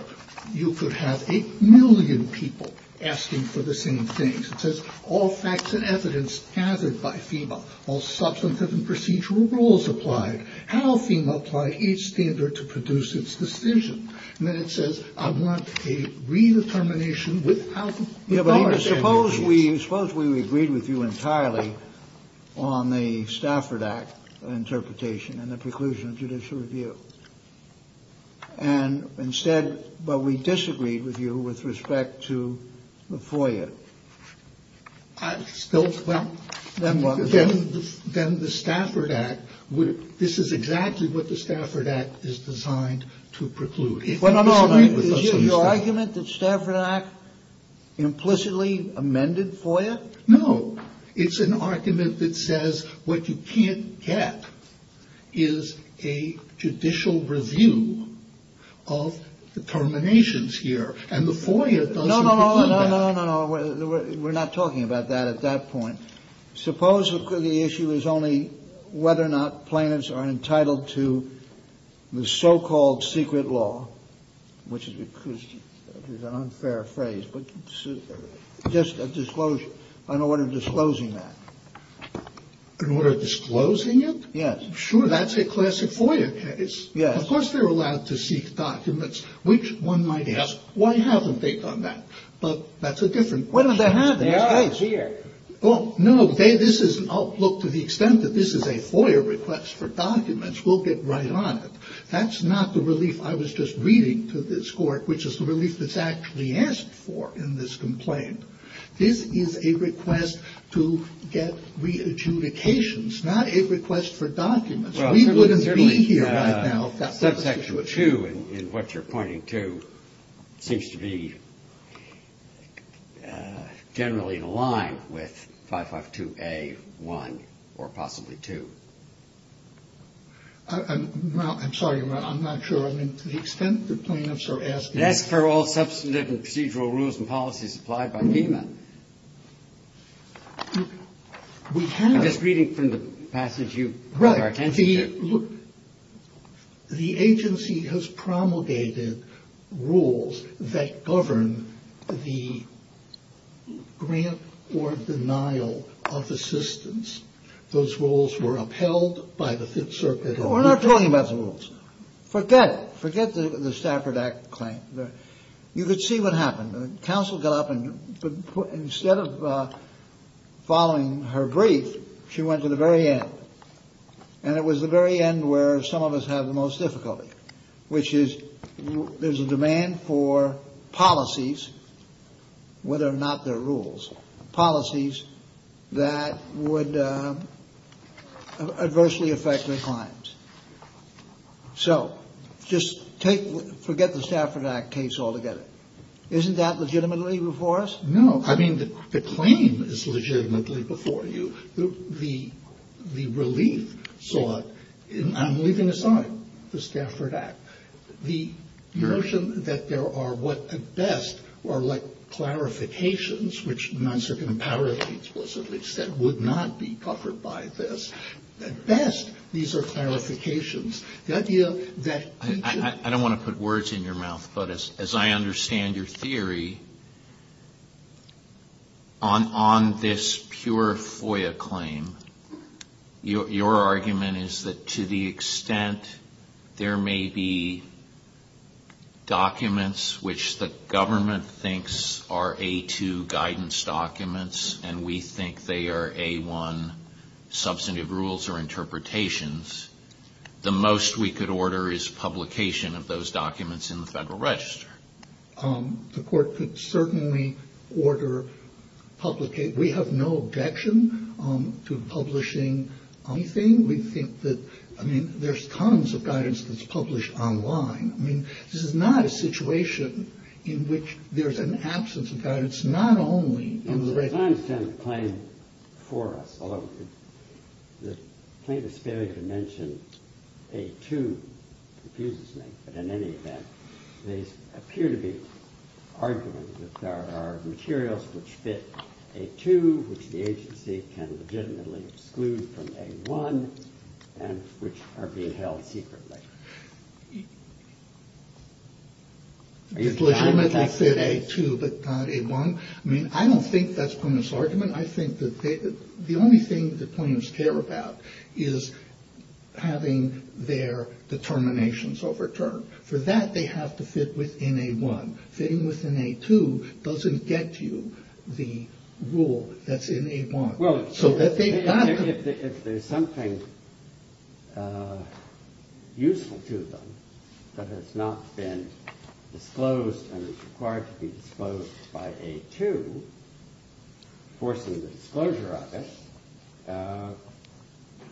you could have a million people asking for the same things. It says, all facts and evidence gathered by FEMA, all substantive and procedural rules applied, how FEMA applied each standard to produce its decision. And then it says, I want a redetermination without the Federal Reserve. Suppose we agreed with you entirely on the Stafford Act interpretation and the preclusion of judicial review. And instead, but we disagreed with you with respect to the FOIA. Then what? Then the Stafford Act would, this is exactly what the Stafford Act is designed to preclude. No, no, no. Is your argument that the Stafford Act implicitly amended FOIA? No. It's an argument that says what you can't get is a judicial review of determinations here. No, no, no. We're not talking about that at that point. Supposedly the issue is only whether or not plaintiffs are entitled to the so-called secret law, which is an unfair phrase, but just a disclosure, an order of disclosing that. An order of disclosing it? Yes. Sure, that's a classic FOIA case. Of course they're allowed to seek documents, which one might ask, why haven't they done that? But that's a different question. Why don't they have it? Well, no, this is, look, to the extent that this is a FOIA request for documents, we'll get right on it. That's not the relief I was just reading to this court, which is the relief that's actually asked for in this complaint. This is a request to get re-adjudications, not a request for documents. We wouldn't be here right now if that's the case. Subsection 2, in what you're pointing to, seems to be generally in line with 552A1 or possibly 2. I'm sorry, I'm not sure. I mean, to the extent that plaintiffs are asking. That's for all substantive and procedural rules and policies applied by pavement. I was reading from the passage you provided. The agency has promulgated rules that govern the grant or denial of assistance. Those rules were upheld by the Fifth Circuit. We're not talking about the rules. Forget it. Forget the Stafford Act claim. You could see what happened. The counsel got up and instead of following her brief, she went to the very end. And it was the very end where some of us have the most difficulty, which is there's a demand for policies, whether or not they're rules, policies that would adversely affect their clients. So, just forget the Stafford Act case altogether. Isn't that legitimately before us? No. I mean, the claim is legitimately before you. The relief sought, I'm leaving aside the Stafford Act. The notion that there are what, at best, are like clarifications, which the 9th Circuit in power explicitly said would not be covered by this. At best, these are clarifications. I don't want to put words in your mouth, but as I understand your theory, on this pure FOIA claim, your argument is that to the extent there may be documents which the government thinks are A2 guidance documents and we think they are A1 substantive rules or interpretations, the most we could order is publication of those documents in the Federal Register. The court could certainly order publication. We have no objection to publishing anything. We think that, I mean, there's tons of guidance that's published online. I mean, this is not a situation in which there's an absence of guidance. Not only... I understand the claim before us, although the plaintiff's failure to mention A2 confuses me. In any event, there appear to be arguments that there are materials which fit A2, which the agency can legitimately exclude from A1, and which are being held secretly. The agreement that fit A2 but not A1? I mean, I don't think that's from this argument. I think that the only thing the plaintiffs care about is having their determinations overturned. For that, they have to fit within A1. Fitting within A2 doesn't get you the rule that's in A1. Well, if there's something useful to them that has not been disclosed and is required to be disclosed by A2, forcing the disclosure of it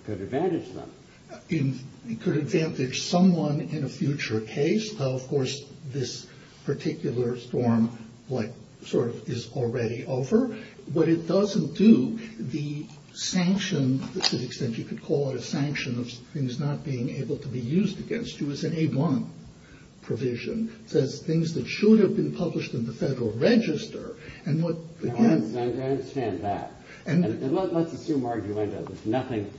could advantage them. It could advantage someone in a future case. Of course, this particular storm is already over. But it doesn't do the sanction, to the extent you could call it a sanction, of things not being able to be used against you. It's an A1 provision. It says things that should have been published in the Federal Register. I understand that. And let's assume we're arguing that there's nothing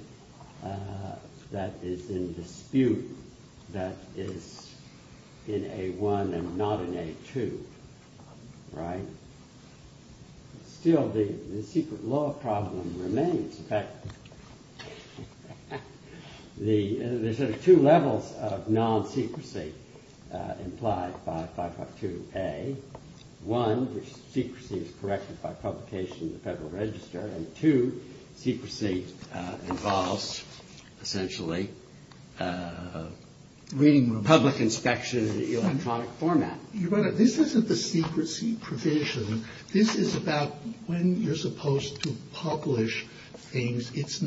that is in dispute that is in A1 and not in A2. Right? Still, the secret law problem remains. In fact, there's two levels of non-secrecy implied by 552A. One, the secrecy is corrected by publication in the Federal Register. And two, secrecy involves, essentially, public inspection in the electronic format. This isn't a secrecy provision. This is about when you're supposed to publish things. It's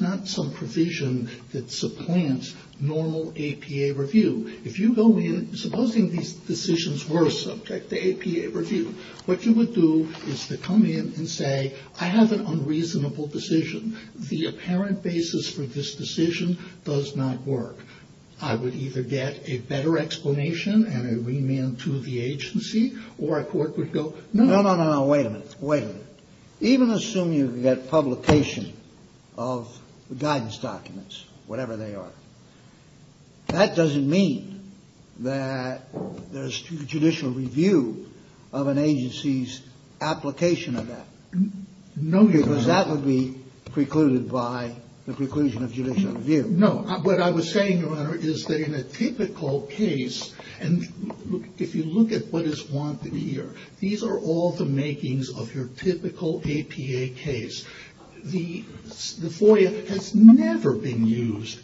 not some provision that supplants normal APA review. If you go in, supposing these decisions were subject to APA review, what you would do is to come in and say, I have an unreasonable decision. The apparent basis for this decision does not work. I would either get a better explanation and a remand to the agency or a court would go... No, no, no, no. Wait a minute. Wait a minute. Even assuming you get publication of the guidance documents, whatever they are, that doesn't mean that there's judicial review of an agency's application of that. Because that would be precluded by the preclusion of judicial review. No. What I was saying, Your Honor, is that in a typical case, and if you look at what is wanted here, these are all the makings of your typical APA case. The FOIA has never been used.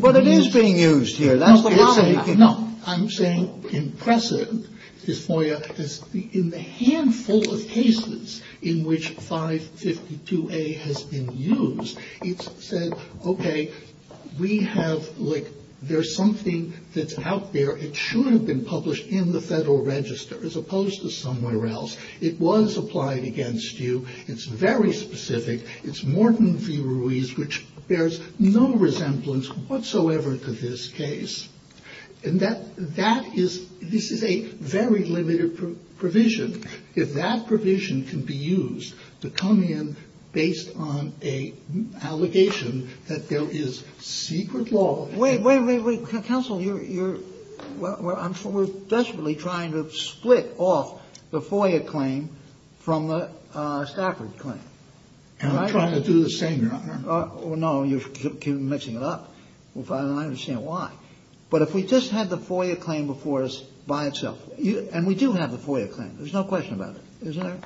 But it is being used here. That's the problem. No. I'm saying in precedent, this FOIA, in the handful of cases in which 552A has been used, it's said, okay, we have, like, there's something that's out there. It should have been published in the Federal Register as opposed to somewhere else. It was applied against you. It's very specific. It's Morton v. Ruiz, which bears no resemblance whatsoever to this case. And that is, this is a very limited provision. If that provision can be used to come in based on an allegation that there is secret law. Wait, wait, wait. Counsel, we're desperately trying to split off the FOIA claim from the Stafford claim. And I'm trying to do the same, Your Honor. No, you're mixing it up. I don't understand why. But if we just had the FOIA claim before us by itself, And we do have the FOIA claim. There's no question about it. Isn't there?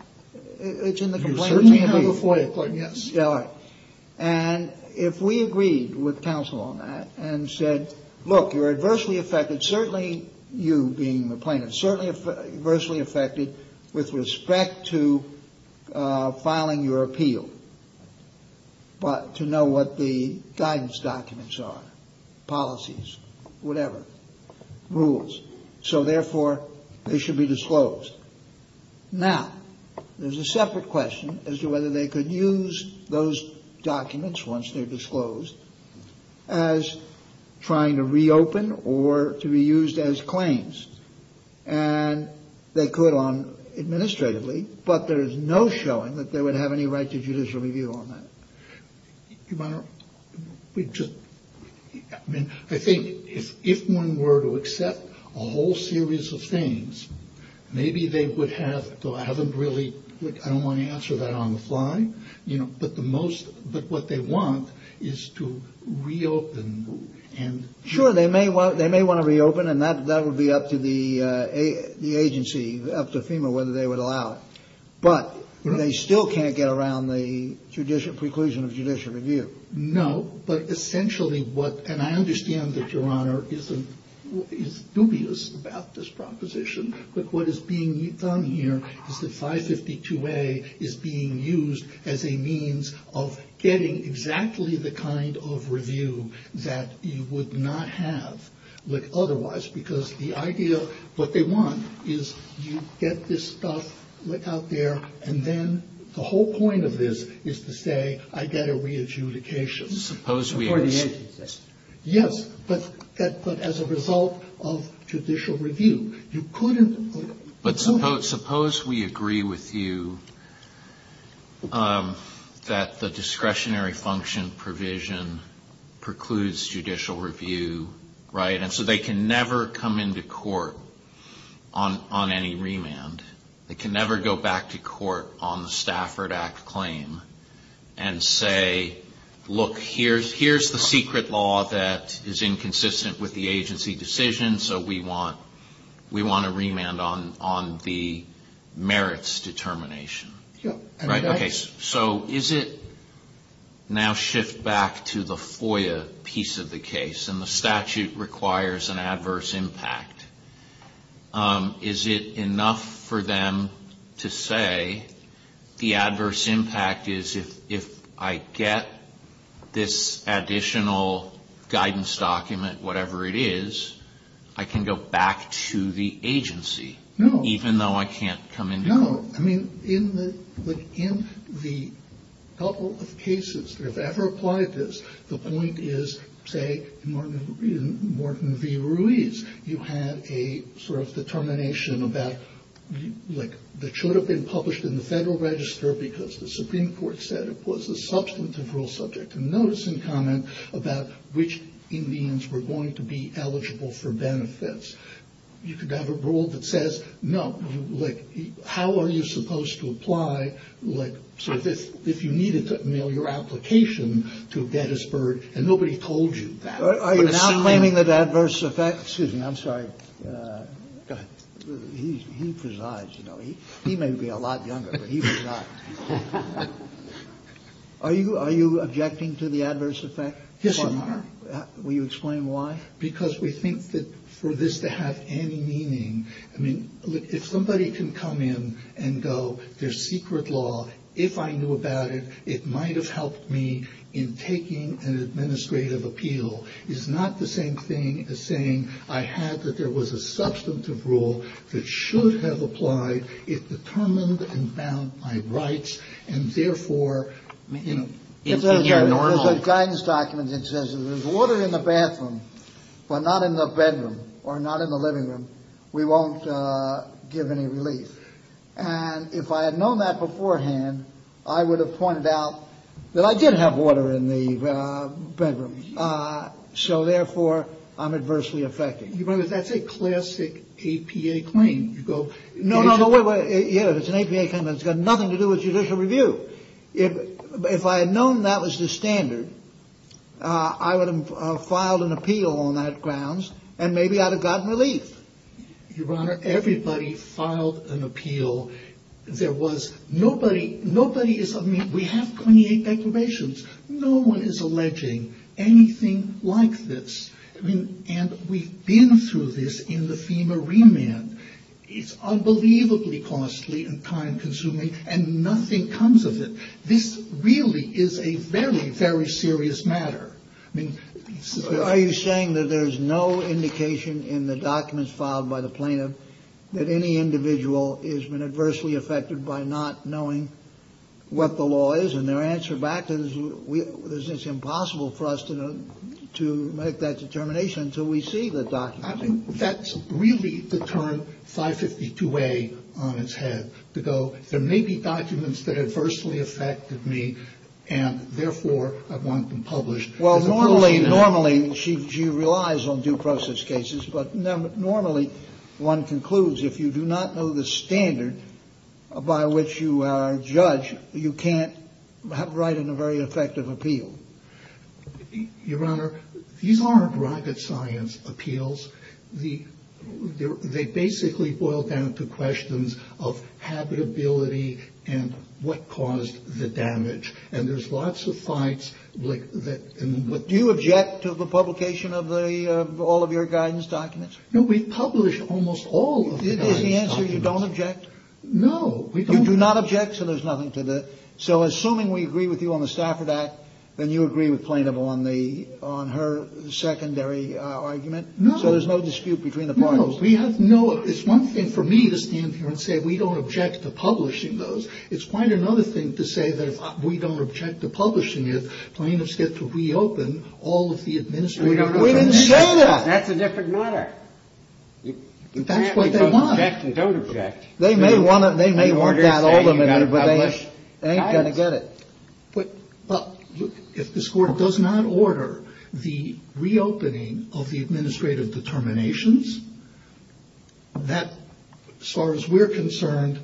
It's in the complaint. You certainly have the FOIA claim. Yes, Your Honor. And if we agreed with counsel on that and said, look, you're adversely affected, certainly you being the plaintiff, certainly adversely affected with respect to filing your appeal, but to know what the guidance documents are, policies, whatever, rules. So, therefore, they should be disclosed. Now, there's a separate question as to whether they could use those documents once they're disclosed as trying to reopen or to be used as claims. And they could on administratively, but there's no showing that they would have any right to judicial review on that. Your Honor, I think if one were to accept a whole series of things, maybe they would have, though I haven't really, I don't want to answer that on the fly, but what they want is to reopen. Sure, they may want to reopen, and that would be up to the agency, up to FEMA, whether they would allow it. But they still can't get around the preclusion of judicial review. No, but essentially what, and I understand that Your Honor is dubious about this proposition, but what is being done here is that 552A is being used as a means of getting exactly the kind of review that you would not have with otherwise, because the idea, what they want is you get this stuff out there, and then the whole point of this is to say, I get a re-adjudication. Suppose we agree. Yes, but as a result of judicial review, you couldn't. But suppose we agree with you that the discretionary function provision precludes judicial review, right? So they can never come into court on any remand. They can never go back to court on the Stafford Act claim and say, look, here's the secret law that is inconsistent with the agency decision, so we want a remand on the merits determination. Sure. So is it now shipped back to the FOIA piece of the case, and the statute requires an adverse impact? Is it enough for them to say the adverse impact is if I get this additional guidance document, whatever it is, I can go back to the agency, even though I can't come into court? No. I mean, in the couple of cases that have ever applied this, the point is, say, in Morton v. Ruiz, you had a sort of determination about, like, that should have been published in the Federal Register because the Supreme Court said it was a substantive rule subject to notice and comment about which Indians were going to be eligible for benefits. You could have a rule that says, no, like, how are you supposed to apply, like, so if you needed to mail your application to Gettysburg and nobody told you that. Are you now claiming that adverse effect? Excuse me, I'm sorry. Go ahead. He presides, though. He may be a lot younger, but he presides. Are you objecting to the adverse effect? Yes, I am. Will you explain why? Because we think that for this to have any meaning, I mean, if somebody can come in and go, there's secret law, if I knew about it, it might have helped me in taking an administrative appeal. It's not the same thing as saying I had that there was a substantive rule that should have applied. It determined and found my rights, and therefore, you know... There's a guidance document that says if there's water in the bathroom, but not in the bedroom, or not in the living room, we won't give any relief. And if I had known that beforehand, I would have pointed out that I did have water in the bedroom. So, therefore, I'm adversely affected. But that's a classic APA claim. No, no, it's an APA claim that's got nothing to do with judicial review. If I had known that was the standard, I would have filed an appeal on that grounds, and maybe I'd have gotten relief. Your Honor, everybody filed an appeal. There was nobody... Nobody is... I mean, we have 28 declarations. No one is alleging anything like this. And we've been through this in the FEMA remand. It's unbelievably costly and time-consuming, and nothing comes of it. This really is a very, very serious matter. I mean... Are you saying that there's no indication in the documents filed by the plaintiff that any individual has been adversely affected by not knowing what the law is, and their answer back is it's impossible for us to make that determination until we see the documents? I think that's really the term 552A on its head. To go, there may be documents that adversely affected me, and therefore I want them published. Well, normally she relies on due process cases, but normally one concludes if you do not know the standard by which you judge, you can't write in a very effective appeal. Your Honor, these aren't private science appeals. They basically boil down to questions of habitability and what caused the damage. And there's lots of fights... Do you object to the publication of all of your guidance documents? No, we publish almost all of them. Is the answer you don't object? No. You do not object, so there's nothing to that. So assuming we agree with you on the Stafford Act, and you agree with Plaintiff on her secondary argument, so there's no dispute between the parties? No. It's one thing for me to stand here and say we don't object to publishing those. It's quite another thing to say that we don't object to publishing it. Plaintiffs get to reopen all of the administrative... That's a different matter. That's what they want. They don't object. They may want that ultimate, but they ain't going to get it. If this Court does not order the reopening of the administrative determinations, that, as far as we're concerned,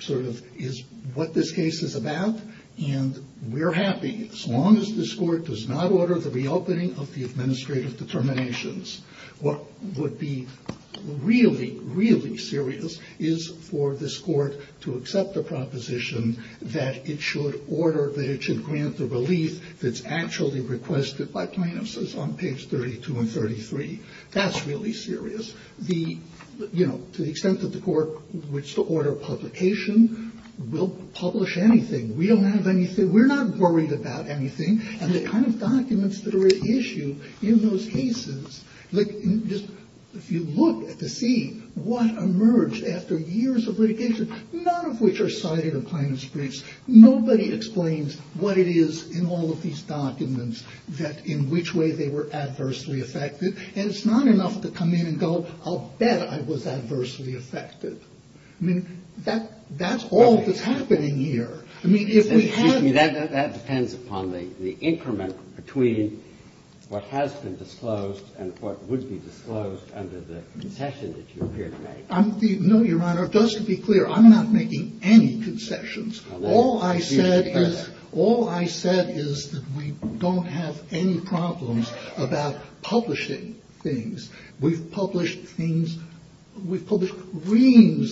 sort of is what this case is about, and we're happy as long as this Court does not order the reopening of the administrative determinations. What would be really, really serious is for this Court to accept the proposition that it should order, that it should grant the relief that's actually requested by Plaintiffs on pages 32 and 33. That's really serious. To the extent that the Court would order publication, we'll publish anything. We don't have anything. We're not worried about anything. And the kind of documents that are at issue in those cases, if you look at the scene, what emerged after years of litigation, none of which are cited in Plaintiffs' case, nobody explains what it is in all of these documents, in which way they were adversely affected, and it's not enough to come in and go, I'll bet I was adversely affected. That's all that's happening here. That depends upon the increment between what has been disclosed and what would be disclosed under the concession that you appear to make. No, Your Honor, just to be clear, I'm not making any concessions. All I said is that we don't have any problems about publishing things. We've published reams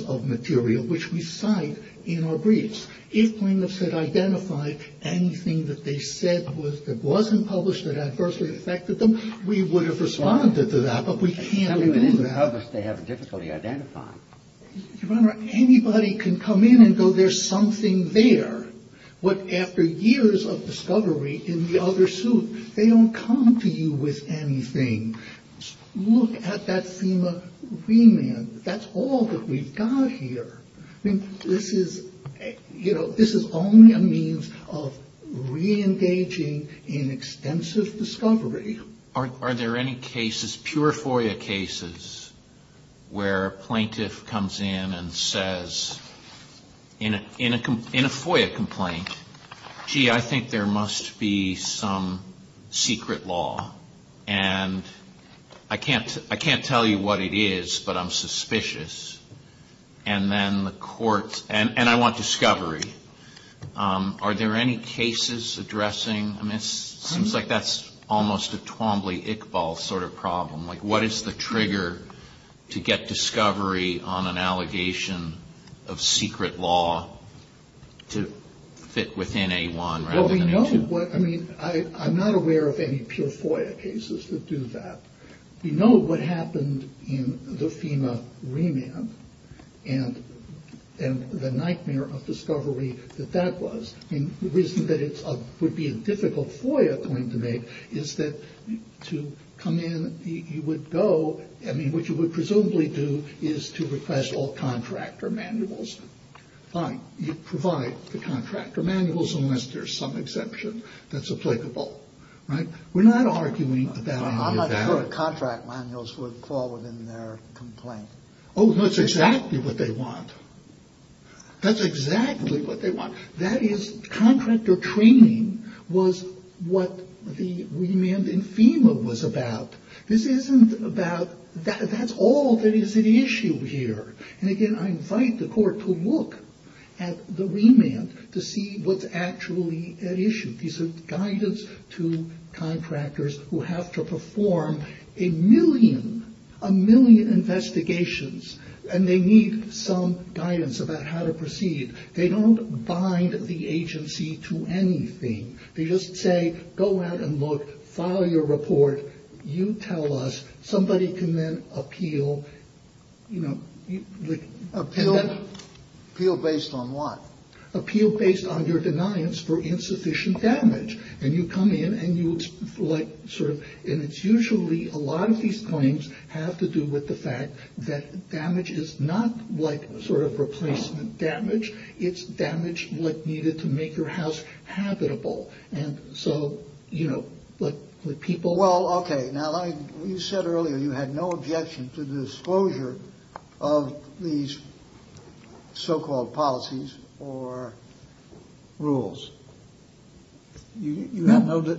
of material which we cite in our briefs. If Plaintiffs had identified anything that they said that wasn't published that adversely affected them, we would have responded to that, but we can't do that. And even others they haven't difficultly identified. Your Honor, anybody can come in and go, there's something there. But after years of discovery in the other suit, they don't come to you with anything. Look at that FEMA remand. That's all that we've got here. This is only a means of reengaging in extensive discovery. Are there any cases, pure FOIA cases, where a Plaintiff comes in and says, in a FOIA complaint, gee, I think there must be some secret law. And I can't tell you what it is, but I'm suspicious. And then the court, and I want discovery. Are there any cases addressing this? It seems like that's almost a Twombly-Iqbal sort of problem. Like what is the trigger to get discovery on an allegation of secret law to fit within A1? Well, we know what, I mean, I'm not aware of any pure FOIA cases that do that. We know what happened in the FEMA remand and the nightmare of discovery that that was. And the reason that it would be a difficult FOIA complaint to make is that to come in, you would go, I mean, what you would presumably do is to request all contractor manuals. Fine, you provide the contractor manuals unless there's some exemption that's applicable. We're not arguing about that. I'm not sure contract manuals would fall within their complaint. Oh, that's exactly what they want. That's exactly what they want. That is, contractor training was what the remand in FEMA was about. This isn't about, that's all that is at issue here. And again, I invite the court to look at the remand to see what's actually at issue. This is guidance to contractors who have to perform a million, a million investigations, and they need some guidance about how to proceed. They don't bind the agency to anything. They just say, go out and look, file your report, you tell us, somebody can then appeal, you know, appeal. Appeal based on what? And you come in and it's usually a lot of these claims have to do with the fact that damage is not like sort of replacement damage. It's damage needed to make your house habitable. And so, you know, the people... You said earlier you had no objection to the disclosure of these so-called policies or rules. You have no...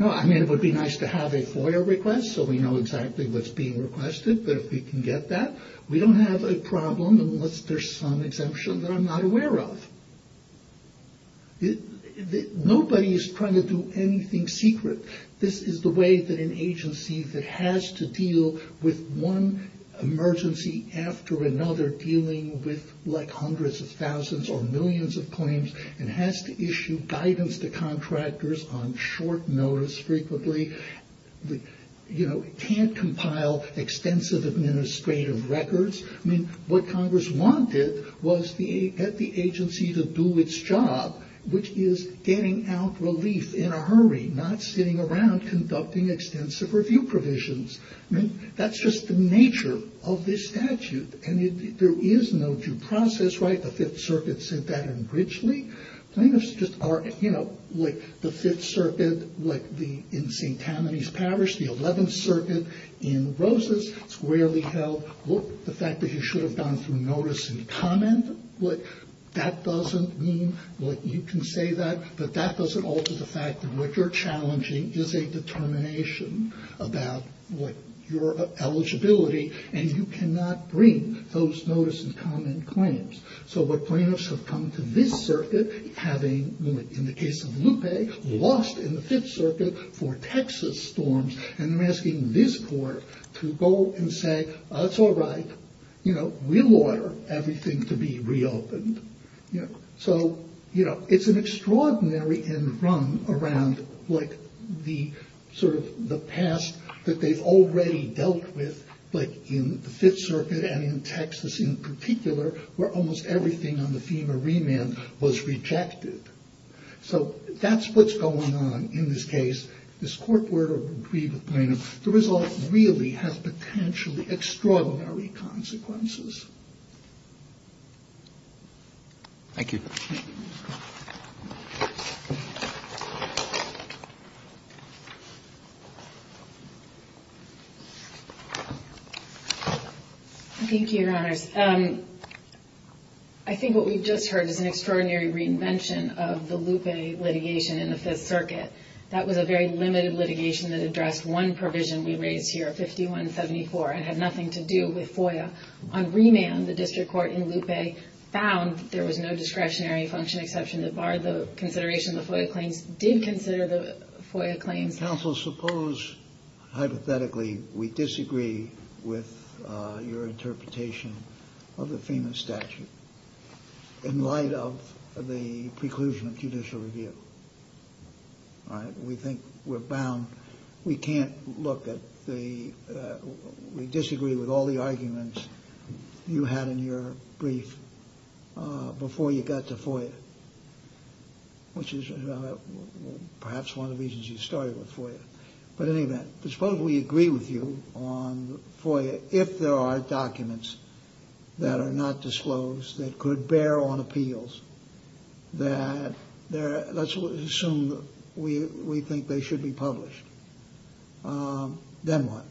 No, I mean, it would be nice to have a FOIA request so we know exactly what's being requested, but if we can get that. We don't have a problem unless there's some exemption that I'm not aware of. Nobody is trying to do anything secret. This is the way that an agency that has to deal with one emergency after another, dealing with like hundreds of thousands or millions of claims, and has to issue guidance to contractors on short notice frequently, you know, can't compile extensive administrative records. I mean, what Congress wanted was the agency to do its job, which is getting out relief in a hurry, not sitting around conducting extensive review provisions. I mean, that's just the nature of this statute. And there is no due process, right? The Fifth Circuit said that in Bridgley. I mean, it's just... You know, the Fifth Circuit in St. Tammany's Parish, the Eleventh Circuit in Rosas, squarely held the fact that you should have gone through notice and comment. That doesn't mean that you can say that, but that doesn't alter the fact that what you're challenging is a determination about your eligibility, and you cannot bring those notice and comment claims. So the plaintiffs have come to this circuit having, in the case of Lupe, lost in the Fifth Circuit for Texas forms, and they're asking this court to go and say, it's all right, you know, we'll order everything to be reopened. So, you know, it's an extraordinary enrung around what the sort of the past that they've already dealt with, like in the Fifth Circuit and in Texas in particular, where almost everything on the FEMA remand was rejected. So that's what's going on in this case. This court order will be the plaintiff. The result really has potentially extraordinary consequences. Thank you. Thank you, Your Honors. I think what we've just heard is an extraordinary reinvention of the Lupe litigation in the Fifth Circuit. That was a very limited litigation that addressed one provision we raised here, 5174, and had nothing to do with FOIA. On remand, the district court in Lupe found there was no discretionary function exception that barred the consideration of the FOIA claim, did consider the FOIA claim. Counsel, suppose, hypothetically, we disagree with your interpretation of the FEMA statute in light of the preclusion of judicial review. We think we're bound. We can't look at the – we disagree with all the arguments you had in your brief before you got to FOIA, which is perhaps one of the reasons you started with FOIA. But in any event, suppose we agree with you on FOIA if there are documents that are not disclosed that could bear on appeals. Let's assume we think they should be published. Then what?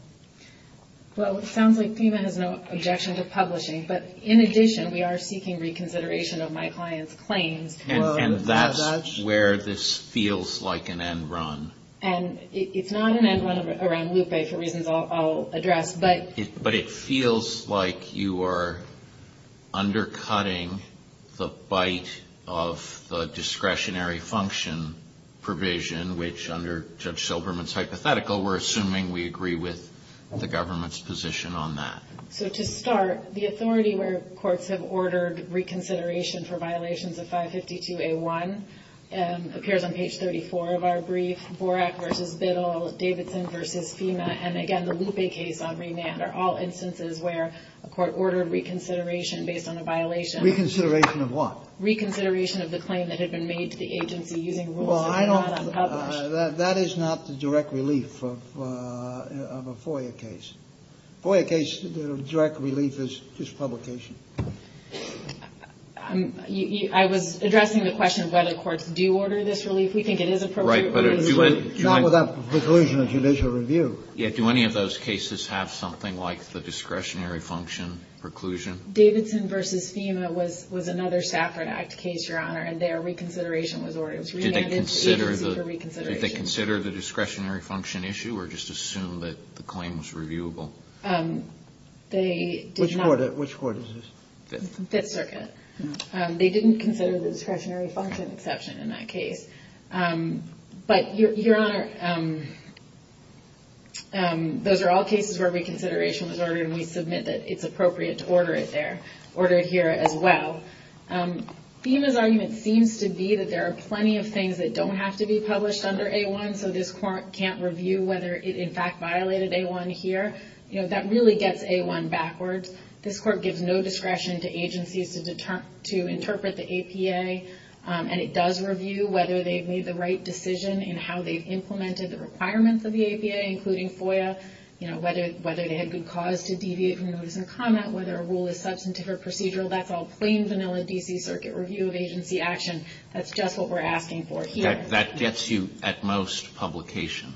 Well, it sounds like FEMA has no objection to publishing. But in addition, we are seeking reconsideration of my client's claims. And that's where this feels like an end run. And it's not an end run around Lupe, for reasons I'll address. But it feels like you are undercutting the bite of the discretionary function provision, which under Judge Silberman's hypothetical, we're assuming we agree with the government's position on that. So to start, the authority where courts have ordered reconsideration for violations of 552A1 appears on page 34 of our brief, Borak v. Biddle, Davidson v. FEMA, and again, the Lupe case on remand are all instances where a court ordered reconsideration based on a violation. Reconsideration of what? Reconsideration of the claim that had been made to the agency using rules. Well, I don't have that published. That is not the direct relief of a FOIA case. A FOIA case, the direct relief is publication. I was addressing the question of whether courts do order this relief. We think it is appropriate. Right, but do any of those cases have something like the discretionary function preclusion? Davidson v. FEMA was another Stafford Act case, Your Honor, and their reconsideration was ordered. Did they consider the discretionary function issue or just assume that the claim was reviewable? Which court is this? Fifth Circuit. They didn't consider the discretionary function exception in that case. But, Your Honor, those are all cases where reconsideration was ordered, and we submit that it's appropriate to order it there, order it here as well. FEMA's argument seems to be that there are plenty of things that don't have to be published under A1, so this court can't review whether it in fact violated A1 here. That really gets A1 backwards. This court gives no discretion to agencies to interpret the APA, and it does review whether they've made the right decision in how they've implemented the requirements of the APA, including FOIA, whether they had good cause to deviate from those in their comment, whether a rule is substantive or procedural. That's all plain, vanilla D.C. Circuit review of agency action. That's just what we're asking for here. That gets you, at most, publication.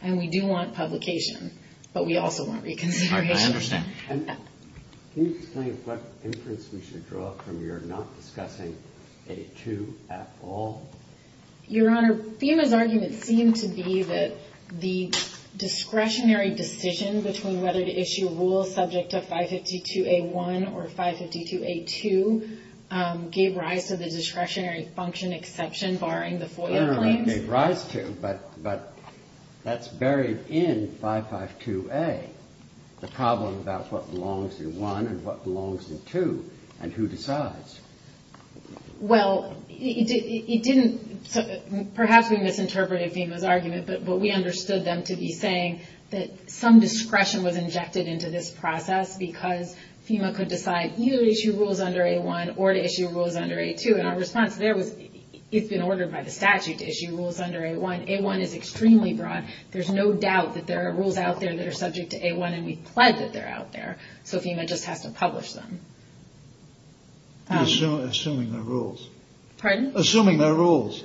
And we do want publication, but we also want reconsideration. I understand. Can you explain what inference we should draw from your not discussing A2 at all? Your Honor, FEMA's argument seems to be that the discretionary decision between whether to issue a rule subject to 552A1 or 552A2 gave rise to the discretionary function exception, barring the FOIA claim. It gave rise to, but that's buried in 552A, the problem about what belongs in 1 and what belongs in 2, and who decides. Well, it didn't – perhaps we misinterpreted FEMA's argument, but we understood them to be saying that some discretion was injected into this process because FEMA could decide to either issue rules under A1 or to issue rules under A2. And our response there was it's been ordered by the statute to issue rules under A1. A1 is extremely broad. There's no doubt that there are rules out there that are subject to A1 and we pledge that they're out there. So FEMA just has to publish them. Assuming they're rules. Pardon? Assuming they're rules.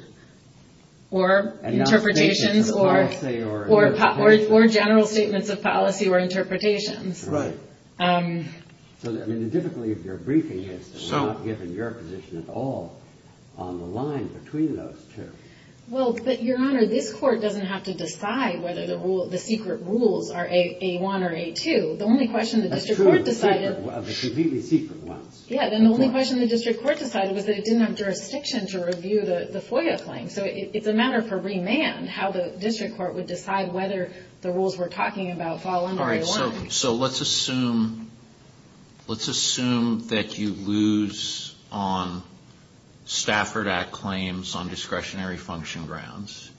Or interpretations or general statements of policy or interpretations. Right. So, I mean, typically if your briefing is not given, your position is all on the line between those two. Well, but, Your Honor, this court doesn't have to decide whether the secret rules are A1 or A2. The only question the district court decided – That's true. It's a completely secret one. Yeah, and the only question the district court decided was that it didn't have jurisdiction to review the FOIA claim. So it's a matter for remand how the district court would decide whether the rules we're talking about fall under A1. So let's assume that you lose on Stafford Act claims on discretionary function grounds.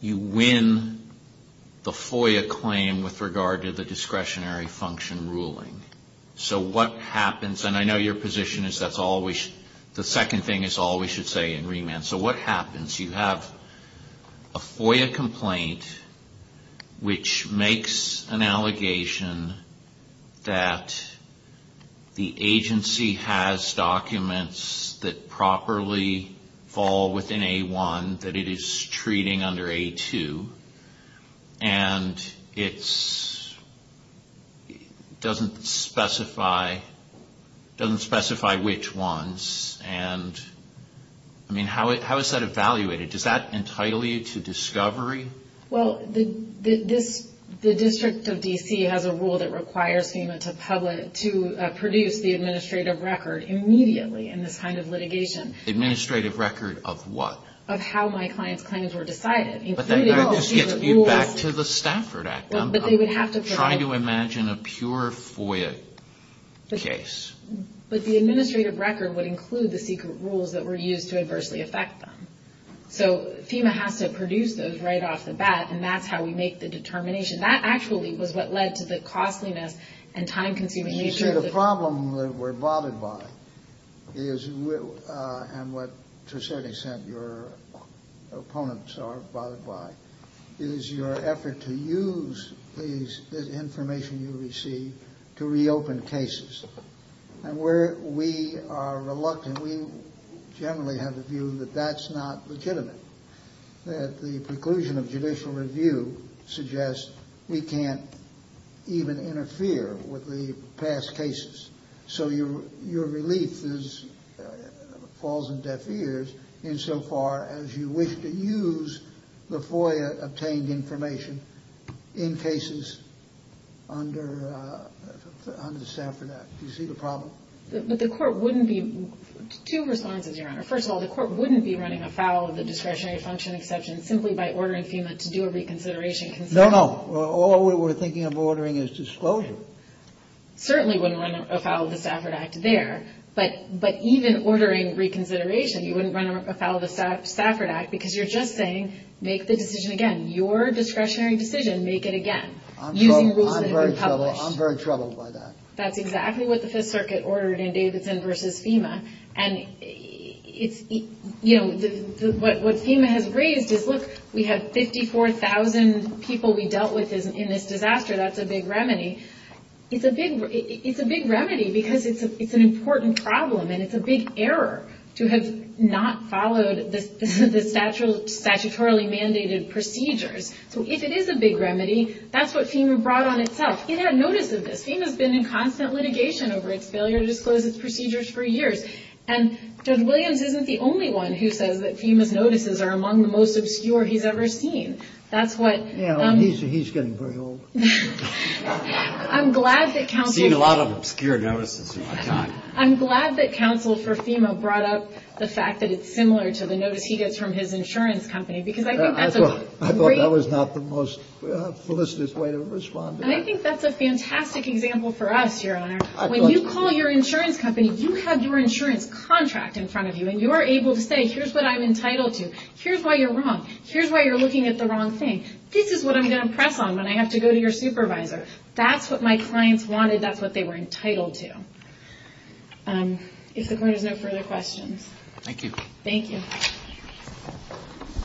You win the FOIA claim with regard to the discretionary function ruling. So what happens – and I know your position is that's all we – the second thing is all we should say in remand. So what happens? You have a FOIA complaint which makes an allegation that the agency has documents that properly fall within A1 that it is treating under A2, and it doesn't specify which ones. I mean, how is that evaluated? Does that entirely lead to discovery? Well, the district of D.C. has a rule that requires FEMA to produce the administrative record immediately in this kind of litigation. Administrative record of what? Of how my client's claims were decided. But that doesn't give feedback to the Stafford Act. I'm trying to imagine a pure FOIA case. But the administrative record would include the secret rules that were used to adversely affect them. So FEMA has to produce those right off the bat, and that's how we make the determination. That actually was what led to the costliness and time-consuming nature of the – and what Trisetti said your opponents are bothered by, is your effort to use the information you receive to reopen cases. And where we are reluctant, we generally have a view that that's not legitimate, that the conclusion of judicial review suggests we can't even interfere with the past cases. So your relief falls in deaf ears insofar as you wish to use the FOIA-obtained information in cases under the Stafford Act. Do you see the problem? But the court wouldn't be – two responses, Your Honor. First of all, the court wouldn't be running afoul of the discretionary function exception simply by ordering FEMA to do a reconsideration. No, no. All we were thinking of ordering is disclosure. Certainly wouldn't run afoul of the Stafford Act there, but even ordering reconsideration, you wouldn't run afoul of the Stafford Act because you're just saying, make the decision again. Your discretionary decision, make it again. I'm very troubled by that. That's exactly what the Fifth Circuit ordered in Davidson v. FEMA. And, you know, what FEMA has raised is, look, we have 54,000 people we dealt with in this disaster. That's a big remedy. It's a big remedy because it's an important problem and it's a big error to have not followed the statutorily mandated procedures. So if it is a big remedy, that's what FEMA brought on itself. It had notices. FEMA's been in constant litigation over its failure to disclose its procedures for years. And Judge Williams isn't the only one who says that FEMA's notices are among the most obscure he's ever seen. He's getting pretty old. I'm glad that counsel for FEMA brought up the fact that it's similar to the notice he gets from his insurance company. I thought that was not the most solicitous way to respond. I think that's a fantastic example for us, Your Honor. When you call your insurance company, you have your insurance contract in front of you, and you're able to say, here's what I'm entitled to. Here's why you're wrong. Here's why you're looking at the wrong things. This is what I'm going to press on when I have to go to your supervisor. That's what my clients wanted. That's what they were entitled to. If there's no further questions. Thank you. Thank you.